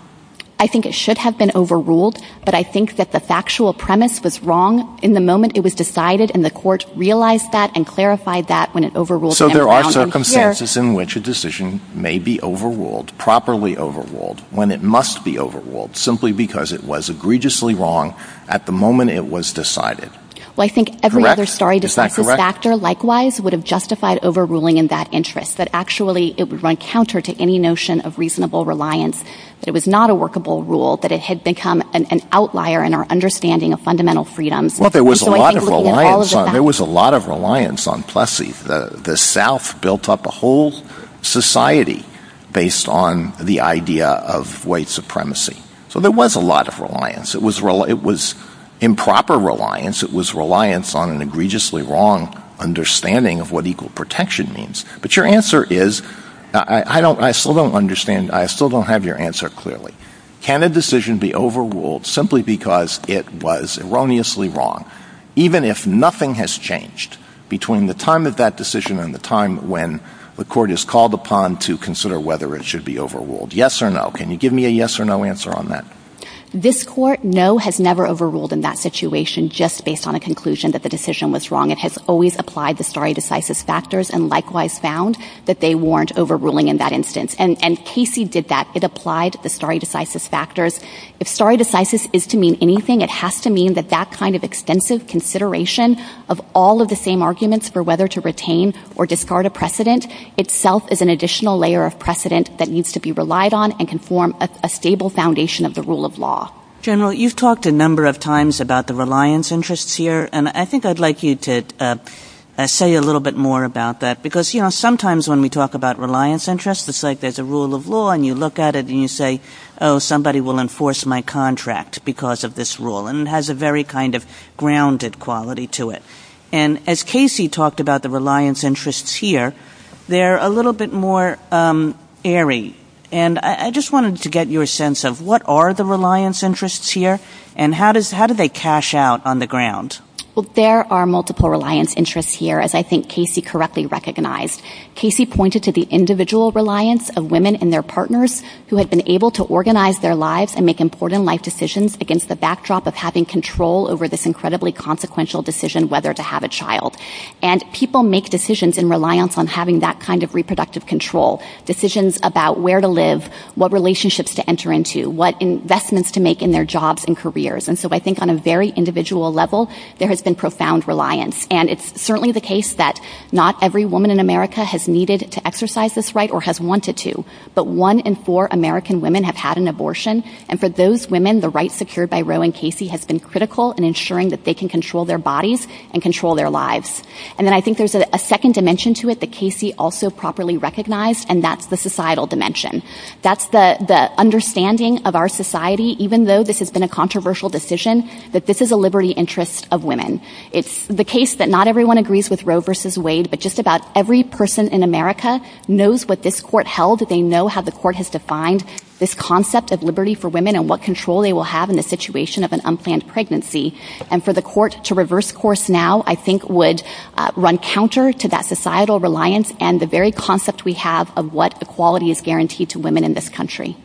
I think it should have been overruled, but I think that the factual premise was wrong in the moment it was decided, and the court realized that and clarified that when it overruled it. So there are circumstances in which a decision may be overruled, properly overruled, when it must be overruled, simply because it was egregiously wrong at the moment it was decided. Correct. Is that correct? Well, I think every other starry-decided factor likewise would have justified overruling in that interest, that actually it would run counter to any notion of reasonable reliance, that it was not a workable rule, that it had become an outlier in our understanding of fundamental freedom. Well, there was a lot of reliance on Plessy. The South built up a whole society based on the idea of white supremacy. So there was a lot of reliance. It was improper reliance. It was reliance on an egregiously wrong understanding of what equal protection means. But your answer is, I still don't understand, I still don't have your answer clearly. Can a decision be overruled simply because it was erroneously wrong, even if nothing has changed between the time of that decision and the time when the court is called upon to consider whether it should be overruled? Yes or no? Can you give me a yes or no answer on that? This court, no, has never overruled in that situation just based on a conclusion that the decision was wrong. It has always applied the starry-decisive factors and likewise found that they weren't overruling in that instance. And Casey did that. It applied the starry-decisive factors. If starry-decisive is to mean anything, it has to mean that that kind of extensive consideration of all of the same arguments for whether to retain or discard a precedent itself is an additional layer of precedent that needs to be relied on and can form a stable foundation of the rule of law. General, you've talked a number of times about the reliance interests here and I think I'd like you to say a little bit more about that because sometimes when we talk about reliance interests, it's like there's a rule of law and you look at it and you say, oh, somebody will enforce my contract because of this rule and it has a very kind of grounded quality to it. And as Casey talked about the reliance interests here, they're a little bit more airy and I just wanted to get your sense of what are the reliance interests here and how do they cash out on the ground? Well, there are multiple reliance interests here as I think Casey correctly recognized. Casey pointed to the individual reliance of women and their partners who have been able to organize their lives and make important life decisions against the backdrop of having control over this incredibly consequential decision whether to have a child. And people make decisions in reliance on having that kind of reproductive control, decisions about where to live, what relationships to enter into, what investments to make in their jobs and careers. And so I think on a very individual level, there has been profound reliance. And it's certainly the case that not every woman in America has needed to exercise this right or has wanted to, but one in four American women have had an abortion and for those women, the right secured by Roe and Casey has been critical in ensuring that they can control their bodies and control their lives. And then I think there's a second dimension to it that Casey also properly recognized and that's the societal dimension. That's the understanding of our society even though this has been a controversial decision that this is a liberty interest of women. It's the case that not everyone agrees with Roe versus Wade, but just about every person in America knows what this court held. They know how the court has defined this concept of liberty for women and what control they will have in the situation of an unplanned pregnancy. And for the court to reverse course now I think would run counter to that societal reliance and the very concept we have of what equality is guaranteed to women in this country.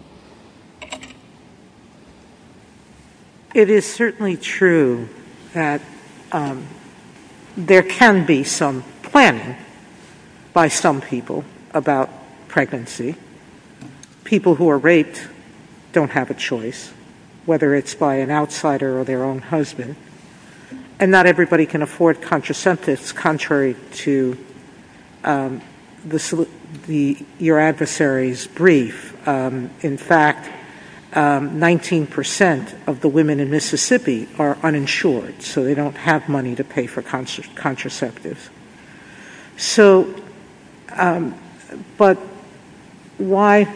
It is certainly true that there can be some planning by some people about pregnancy. People who are raped don't have a choice, whether it's by an outsider or their own husband. And not everybody can afford contraceptives contrary to your adversary's brief. In fact, 19% of the women in Mississippi are uninsured, so they don't have money to pay for contraceptives. But why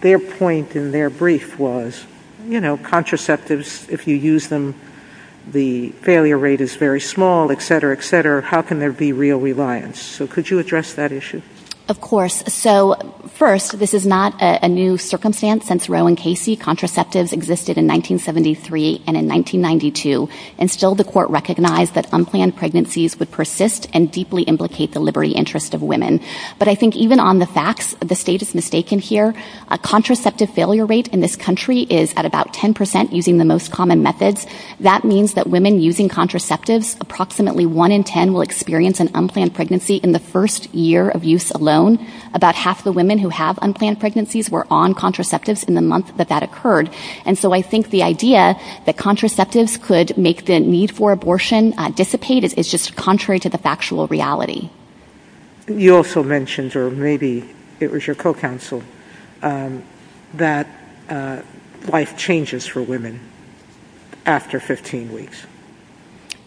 their point in their brief was, you know, contraceptives, if you use them, the failure rate is very small, et cetera, et cetera. How can there be real reliance? So could you address that issue? Of course. So first, this is not a new circumstance. Since Roe and Casey, contraceptives existed in 1973 and in 1992, and still the court recognized that unplanned pregnancies would persist and deeply implicate the liberty interest of women. But I think even on the facts, the state is mistaken here. A contraceptive failure rate in this country is at about 10% using the most common methods. That means that women using contraceptives, approximately one in ten will experience an unplanned pregnancy in the first year of use alone. About half the women who have unplanned pregnancies were on contraceptives in the month that that occurred. And so I think the idea that contraceptives could make the need for abortion dissipate is just contrary to the factual reality. You also mentioned, or maybe it was your co-counsel, that life changes for women after 15 weeks.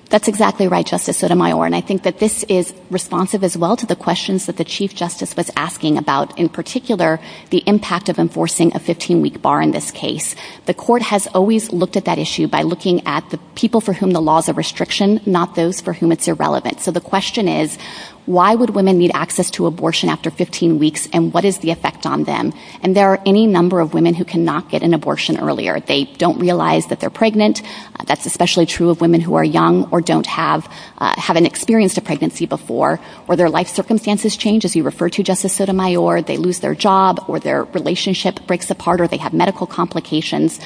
That's exactly right, Justice Sotomayor, and I think that this is responsive as well to the questions that the Chief Justice was asking about, in particular, the impact of enforcing a 15-week bar in this case. The court has always looked at that issue by looking at the people for whom the law is a restriction, not those for whom it's irrelevant. So the question is, why would women need access to abortion after 15 weeks, and what is the effect on them? And there are any number of women who cannot get an abortion earlier. They don't realize that they're pregnant. That's especially true of women who are young or don't have an experience of pregnancy before, or their life circumstances change, as you referred to, Justice Sotomayor. They lose their job or their relationship breaks apart or they have medical complications.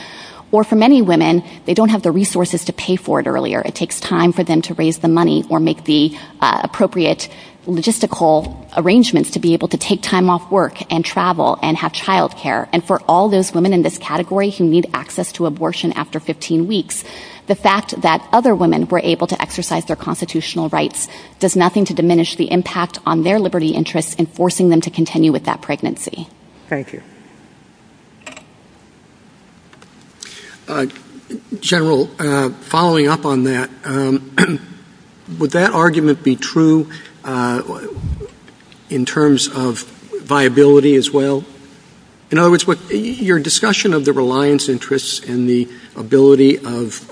Or for many women, they don't have the resources to pay for it earlier. It takes time for them to raise the money or make the appropriate logistical arrangements to be able to take time off work and travel and have child care. And for all those women in this category who need access to abortion after 15 weeks, the fact that other women were able to exercise their constitutional rights does nothing to diminish the impact on their liberty interests in forcing them to continue with that pregnancy. Thank you. General, following up on that, would that argument be true in terms of viability as well? In other words, your discussion of the reliance interests and the ability of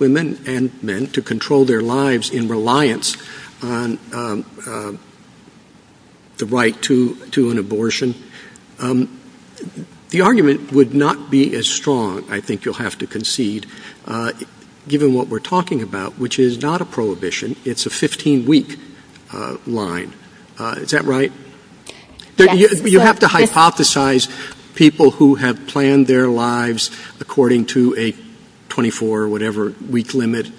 women and men to control their lives in reliance on the right to an abortion, the argument would not be as strong, I think you'll have to concede, given what we're talking about, which is not a prohibition. It's a 15-week line. Is that right? You have to hypothesize people who have planned their lives according to a 24-week limit,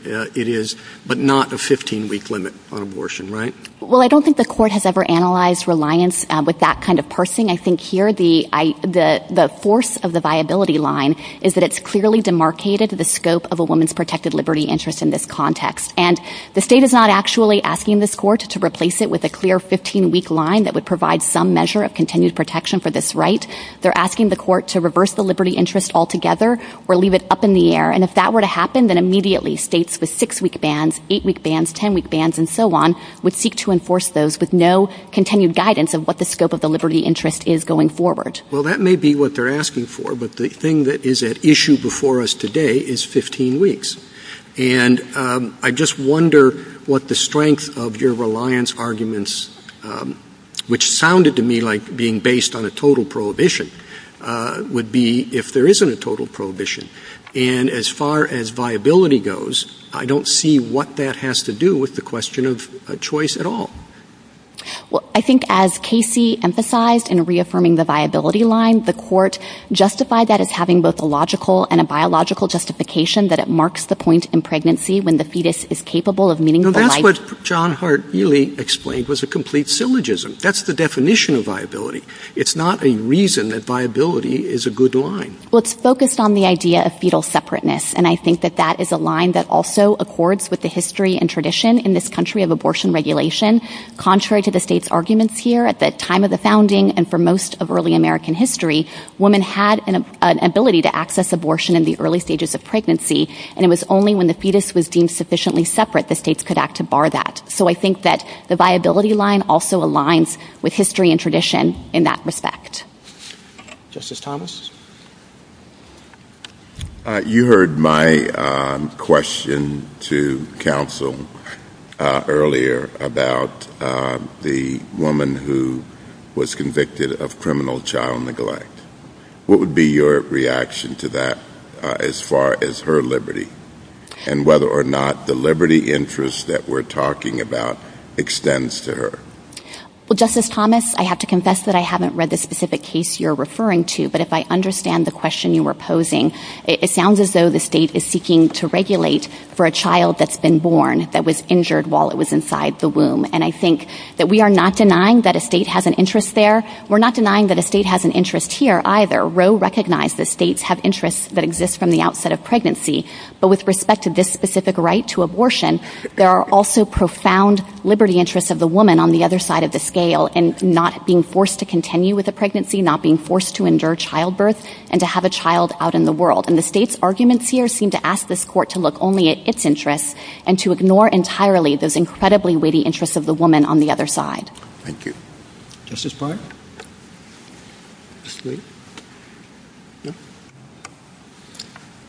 but not a 15-week limit on abortion, right? Well, I don't think the court has ever analyzed reliance with that kind of parsing. I think here the force of the viability line is that it's clearly demarcated the scope of a woman's protected liberty interest in this context. And the state is not actually asking this court to replace it with a clear 15-week line that would provide some measure of continued protection for this right. They're asking the court to reverse the liberty interest altogether or leave it up in the air. And if that were to happen, then immediately states with six-week bans, eight-week bans, ten-week bans, and so on, would seek to enforce those with no continued guidance of what the scope of the liberty interest is going forward. Well, that may be what they're asking for, but the thing that is at issue before us today is 15 weeks. And I just wonder what the strength of your reliance arguments, which sounded to me like being based on a total prohibition, would be if there isn't a total prohibition. And as far as viability goes, I don't see what that has to do with the question of choice at all. Well, I think as Casey emphasized in reaffirming the viability line, the court justified that as having both a logical and a biological justification that it marks the point in pregnancy when the fetus is capable of meeting the life... Now, that's what John Hart really explained was a complete syllogism. That's the definition of viability. It's not a reason that viability is a good line. Well, it's focused on the idea of fetal separateness, and I think that that is a line that also accords with the history and tradition in this country of abortion regulation. Contrary to the state's arguments here, at the time of the founding and for most of early American history, women had an ability to access abortion in the early stages of pregnancy, and it was only when the fetus was deemed sufficiently separate that states could act to bar that. So I think that the viability line also aligns with history and tradition in that respect. Justice Thomas? You heard my question to counsel earlier about the woman who was convicted of criminal child neglect. What would be your reaction to that as far as her liberty and whether or not the liberty interest that we're talking about extends to her? Well, Justice Thomas, I have to confess that I haven't read the specific case you're referring to, but if I understand the question you were posing, it sounds as though the state is seeking to regulate for a child that's been born that was injured while it was inside the womb. And I think that we are not denying that a state has an interest there. We're not denying that a state has an interest here either. Roe recognized that states have interests that exist from the outset of pregnancy, but with respect to this specific right to abortion, there are also profound liberty interests of the woman on the other side of the scale in not being forced to continue with a pregnancy, not being forced to endure childbirth, and to have a child out in the world. And the state's arguments here seem to ask this court to look only at its interests and to ignore entirely those incredibly weighty interests of the woman on the other side. Thank you. Justice Breyer?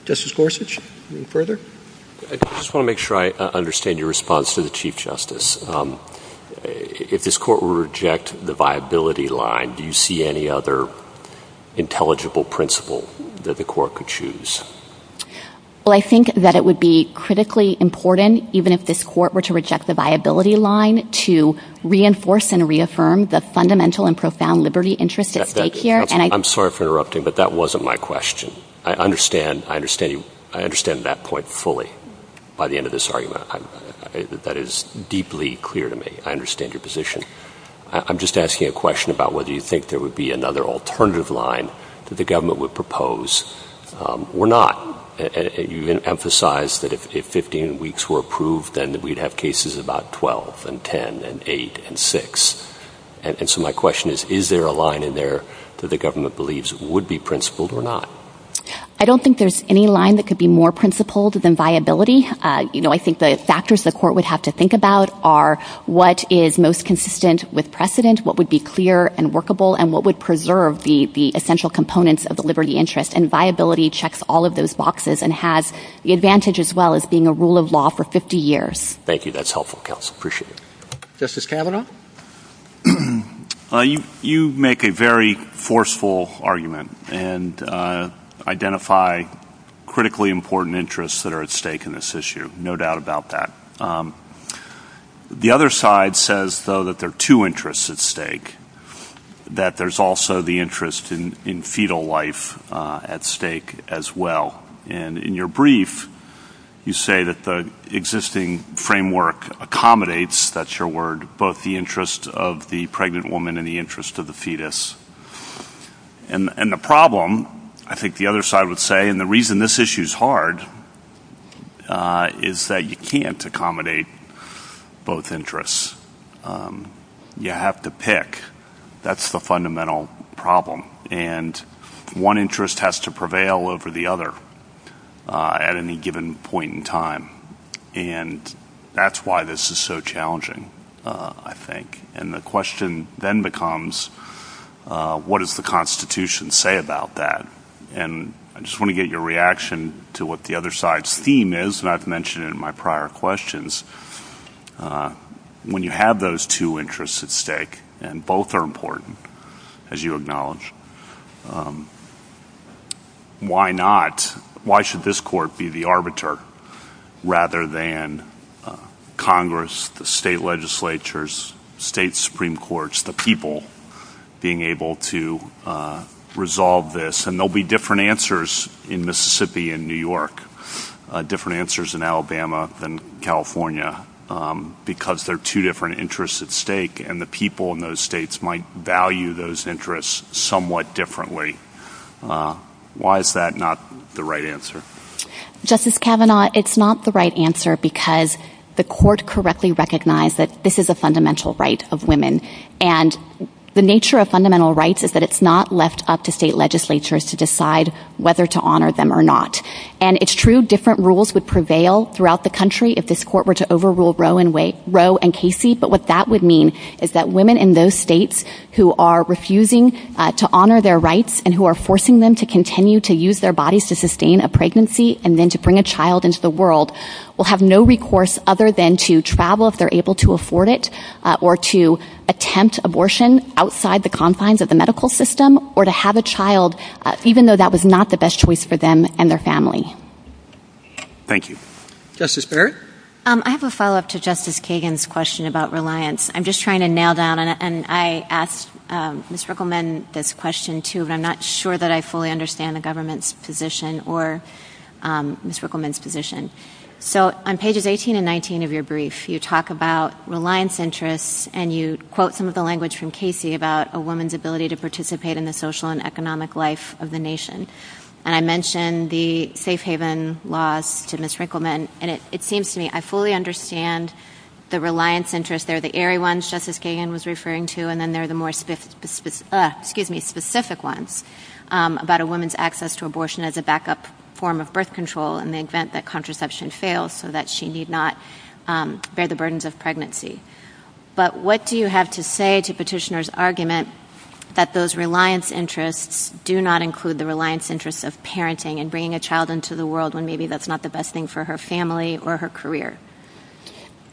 Justice Gorsuch, any further? I just want to make sure I understand your response to the Chief Justice. If this court were to reject the viability line, do you see any other intelligible principle that the court could choose? Well, I think that it would be critically important, even if this court were to reject the viability line, to reinforce and reaffirm the fundamental and profound liberty interests at stake here. I'm sorry for interrupting, but that wasn't my question. I understand that point fully by the end of this argument. That is deeply clear to me. I understand your position. I'm just asking a question about whether you think there would be another alternative line that the government would propose. We're not. You've emphasized that if 15 weeks were approved, then we'd have cases about 12 and 10 and 8 and 6. And so my question is, is there a line in there that the government believes would be principled or not? I don't think there's any line that could be more principled than viability. You know, I think the factors the court would have to think about are what is most consistent with precedent, what would be clear and workable, and what would preserve the essential components of the liberty interest. And viability checks all of those boxes and has the advantage as well as being a rule of law for 50 years. Thank you. That's helpful, counsel. Appreciate it. Justice Kavanaugh? You make a very forceful argument and identify critically important interests that are at stake in this issue. No doubt about that. The other side says, though, that there are two interests at stake, that there's also the interest in fetal life at stake as well. And in your brief, you say that the existing framework accommodates, that's your word, both the interest of the pregnant woman and the interest of the fetus. And the problem, I think the other side would say, and the reason this issue is hard, is that you can't accommodate both interests. You have to pick. That's the fundamental problem. And one interest has to prevail over the other at any given point in time. And that's why this is so challenging, I think. And the question then becomes, what does the Constitution say about that? And I just want to get your reaction to what the other side's theme is, and I've mentioned it in my prior questions. When you have those two interests at stake, and both are important, as you acknowledge, why not, why should this court be the arbiter rather than Congress, the state legislatures, state Supreme Courts, the people being able to resolve this? And there will be different answers in Mississippi and New York, different answers in Alabama than California, because there are two different interests at stake, and the people in those states might value those interests somewhat differently. Why is that not the right answer? Justice Kavanaugh, it's not the right answer because the court correctly recognized that this is a fundamental right of women. And the nature of fundamental rights is that it's not left up to state legislatures to decide whether to honor them or not. And it's true different rules would prevail throughout the country if this court were to overrule Roe and Casey, but what that would mean is that women in those states who are refusing to honor their rights and who are forcing them to continue to use their bodies to sustain a pregnancy and then to bring a child into the world will have no recourse other than to travel if they're able to afford it, or to attempt abortion outside the confines of the medical system, or to have a child even though that was not the best choice for them and their family. Thank you. Justice Barrett? I have a follow-up to Justice Kagan's question about reliance. I'm just trying to nail down, and I asked Ms. Rickleman this question too, but I'm not sure that I fully understand the government's position or Ms. Rickleman's position. So on pages 18 and 19 of your brief, you talk about reliance interests and you quote some of the language from Casey about a woman's ability to participate in the social and economic life of the nation. And I mentioned the safe haven laws to Ms. Rickleman, and it seems to me I fully understand the reliance interests. They're the airy ones Justice Kagan was referring to, and then there are the more specific ones about a woman's access to abortion as a backup form of birth control in the event that contraception fails so that she need not bear the burdens of pregnancy. But what do you have to say to Petitioner's argument that those reliance interests do not include the reliance interests of parenting and bringing a child into the world when maybe that's not the best thing for her family or her career?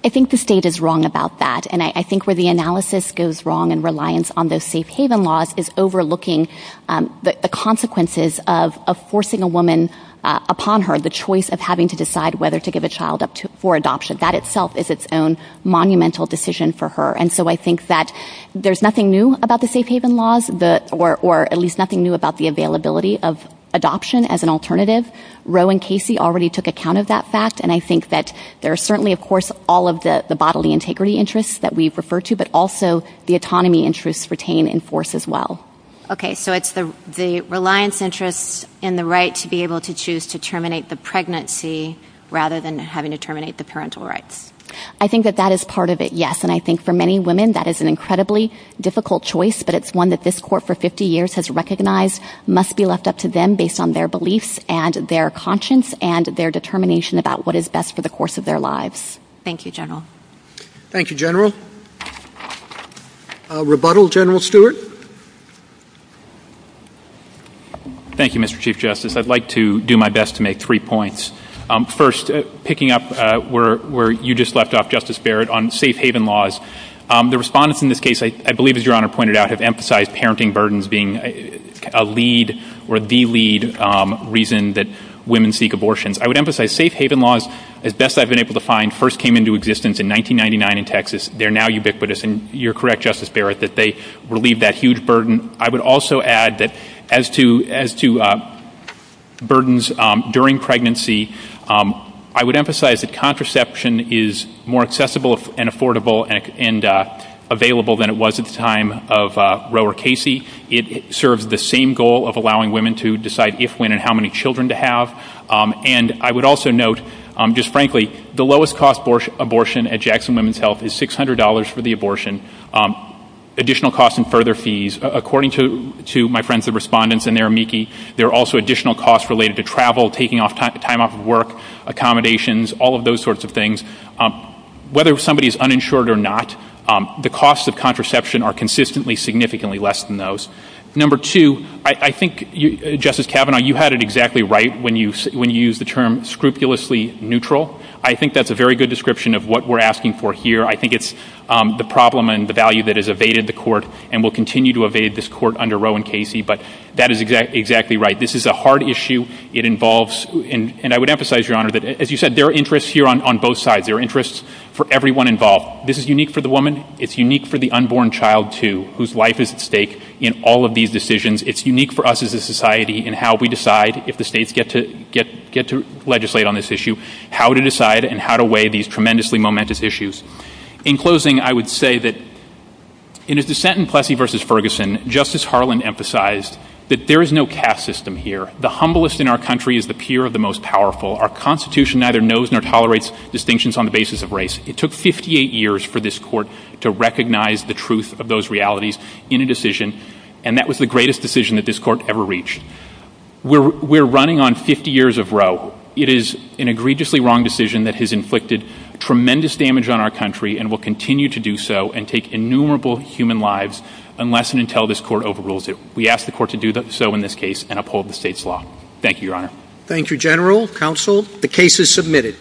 I think the state is wrong about that, and I think where the analysis goes wrong in reliance on those safe haven laws is overlooking the consequences of forcing a woman upon her, the choice of having to decide whether to give a child up for adoption. That itself is its own monumental decision for her. And so I think that there's nothing new about the safe haven laws, or at least nothing new about the availability of adoption as an alternative. Roe and Casey already took account of that fact, and I think that there are certainly, of course, all of the bodily integrity interests that we refer to, but also the autonomy interests retained in force as well. Okay, so it's the reliance interests and the right to be able to choose to terminate the pregnancy rather than having to terminate the parental rights. I think that that is part of it, yes, and I think for many women that is an incredibly difficult choice, but it's one that this court for 50 years has recognized must be left up to them based on their beliefs and their conscience and their determination about what is best for the course of their lives. Thank you, General. Thank you, General. Rebuttal, General Stewart. Thank you, Mr. Chief Justice. I'd like to do my best to make three points. First, picking up where you just left off, Justice Barrett, on safe haven laws, the respondents in this case, I believe as Your Honor pointed out, have emphasized parenting burdens being a lead or the lead reason that women seek abortions. I would emphasize safe haven laws, as best I've been able to find, first came into existence in 1999 in Texas. They're now ubiquitous, and you're correct, Justice Barrett, that they relieve that huge burden. I would also add that as to burdens during pregnancy, I would emphasize that contraception is more accessible and affordable and available than it was at the time of Roe or Casey. It serves the same goal of allowing women to decide if, when, and how many children to have. And I would also note, just frankly, the lowest-cost abortion at Jackson Women's Health is $600 for the abortion. Additional costs and further fees, according to my friends, the respondents, and their amici, there are also additional costs related to travel, taking time off of work, accommodations, all of those sorts of things. Whether somebody is uninsured or not, the costs of contraception are consistently significantly less than those. Number two, I think, Justice Kavanaugh, you had it exactly right when you used the term scrupulously neutral. I think that's a very good description of what we're asking for here. I think it's the problem and the value that has evaded the court and will continue to evade this court under Roe and Casey, but that is exactly right. This is a hard issue. It involves, and I would emphasize, Your Honor, that, as you said, there are interests here on both sides. There are interests for everyone involved. This is unique for the woman. It's unique for the unborn child, too, whose life is at stake in all of these decisions. It's unique for us as a society in how we decide, if the states get to legislate on this issue, how to decide and how to weigh these tremendously momentous issues. In closing, I would say that in his dissent in Plessy v. Ferguson, Justice Harlan emphasized that there is no caste system here. The humblest in our country is the peer of the most powerful. Our Constitution neither knows nor tolerates distinctions on the basis of race. It took 58 years for this court to recognize the truth of those realities in a decision, and that was the greatest decision that this court ever reached. We're running on 50 years of Roe. It is an egregiously wrong decision that has inflicted tremendous damage on our country and will continue to do so and take innumerable human lives unless and until this court overrules it. We ask the court to do so in this case and uphold the state's law. Thank you, Your Honor. Thank you, General, Counsel. The case is submitted.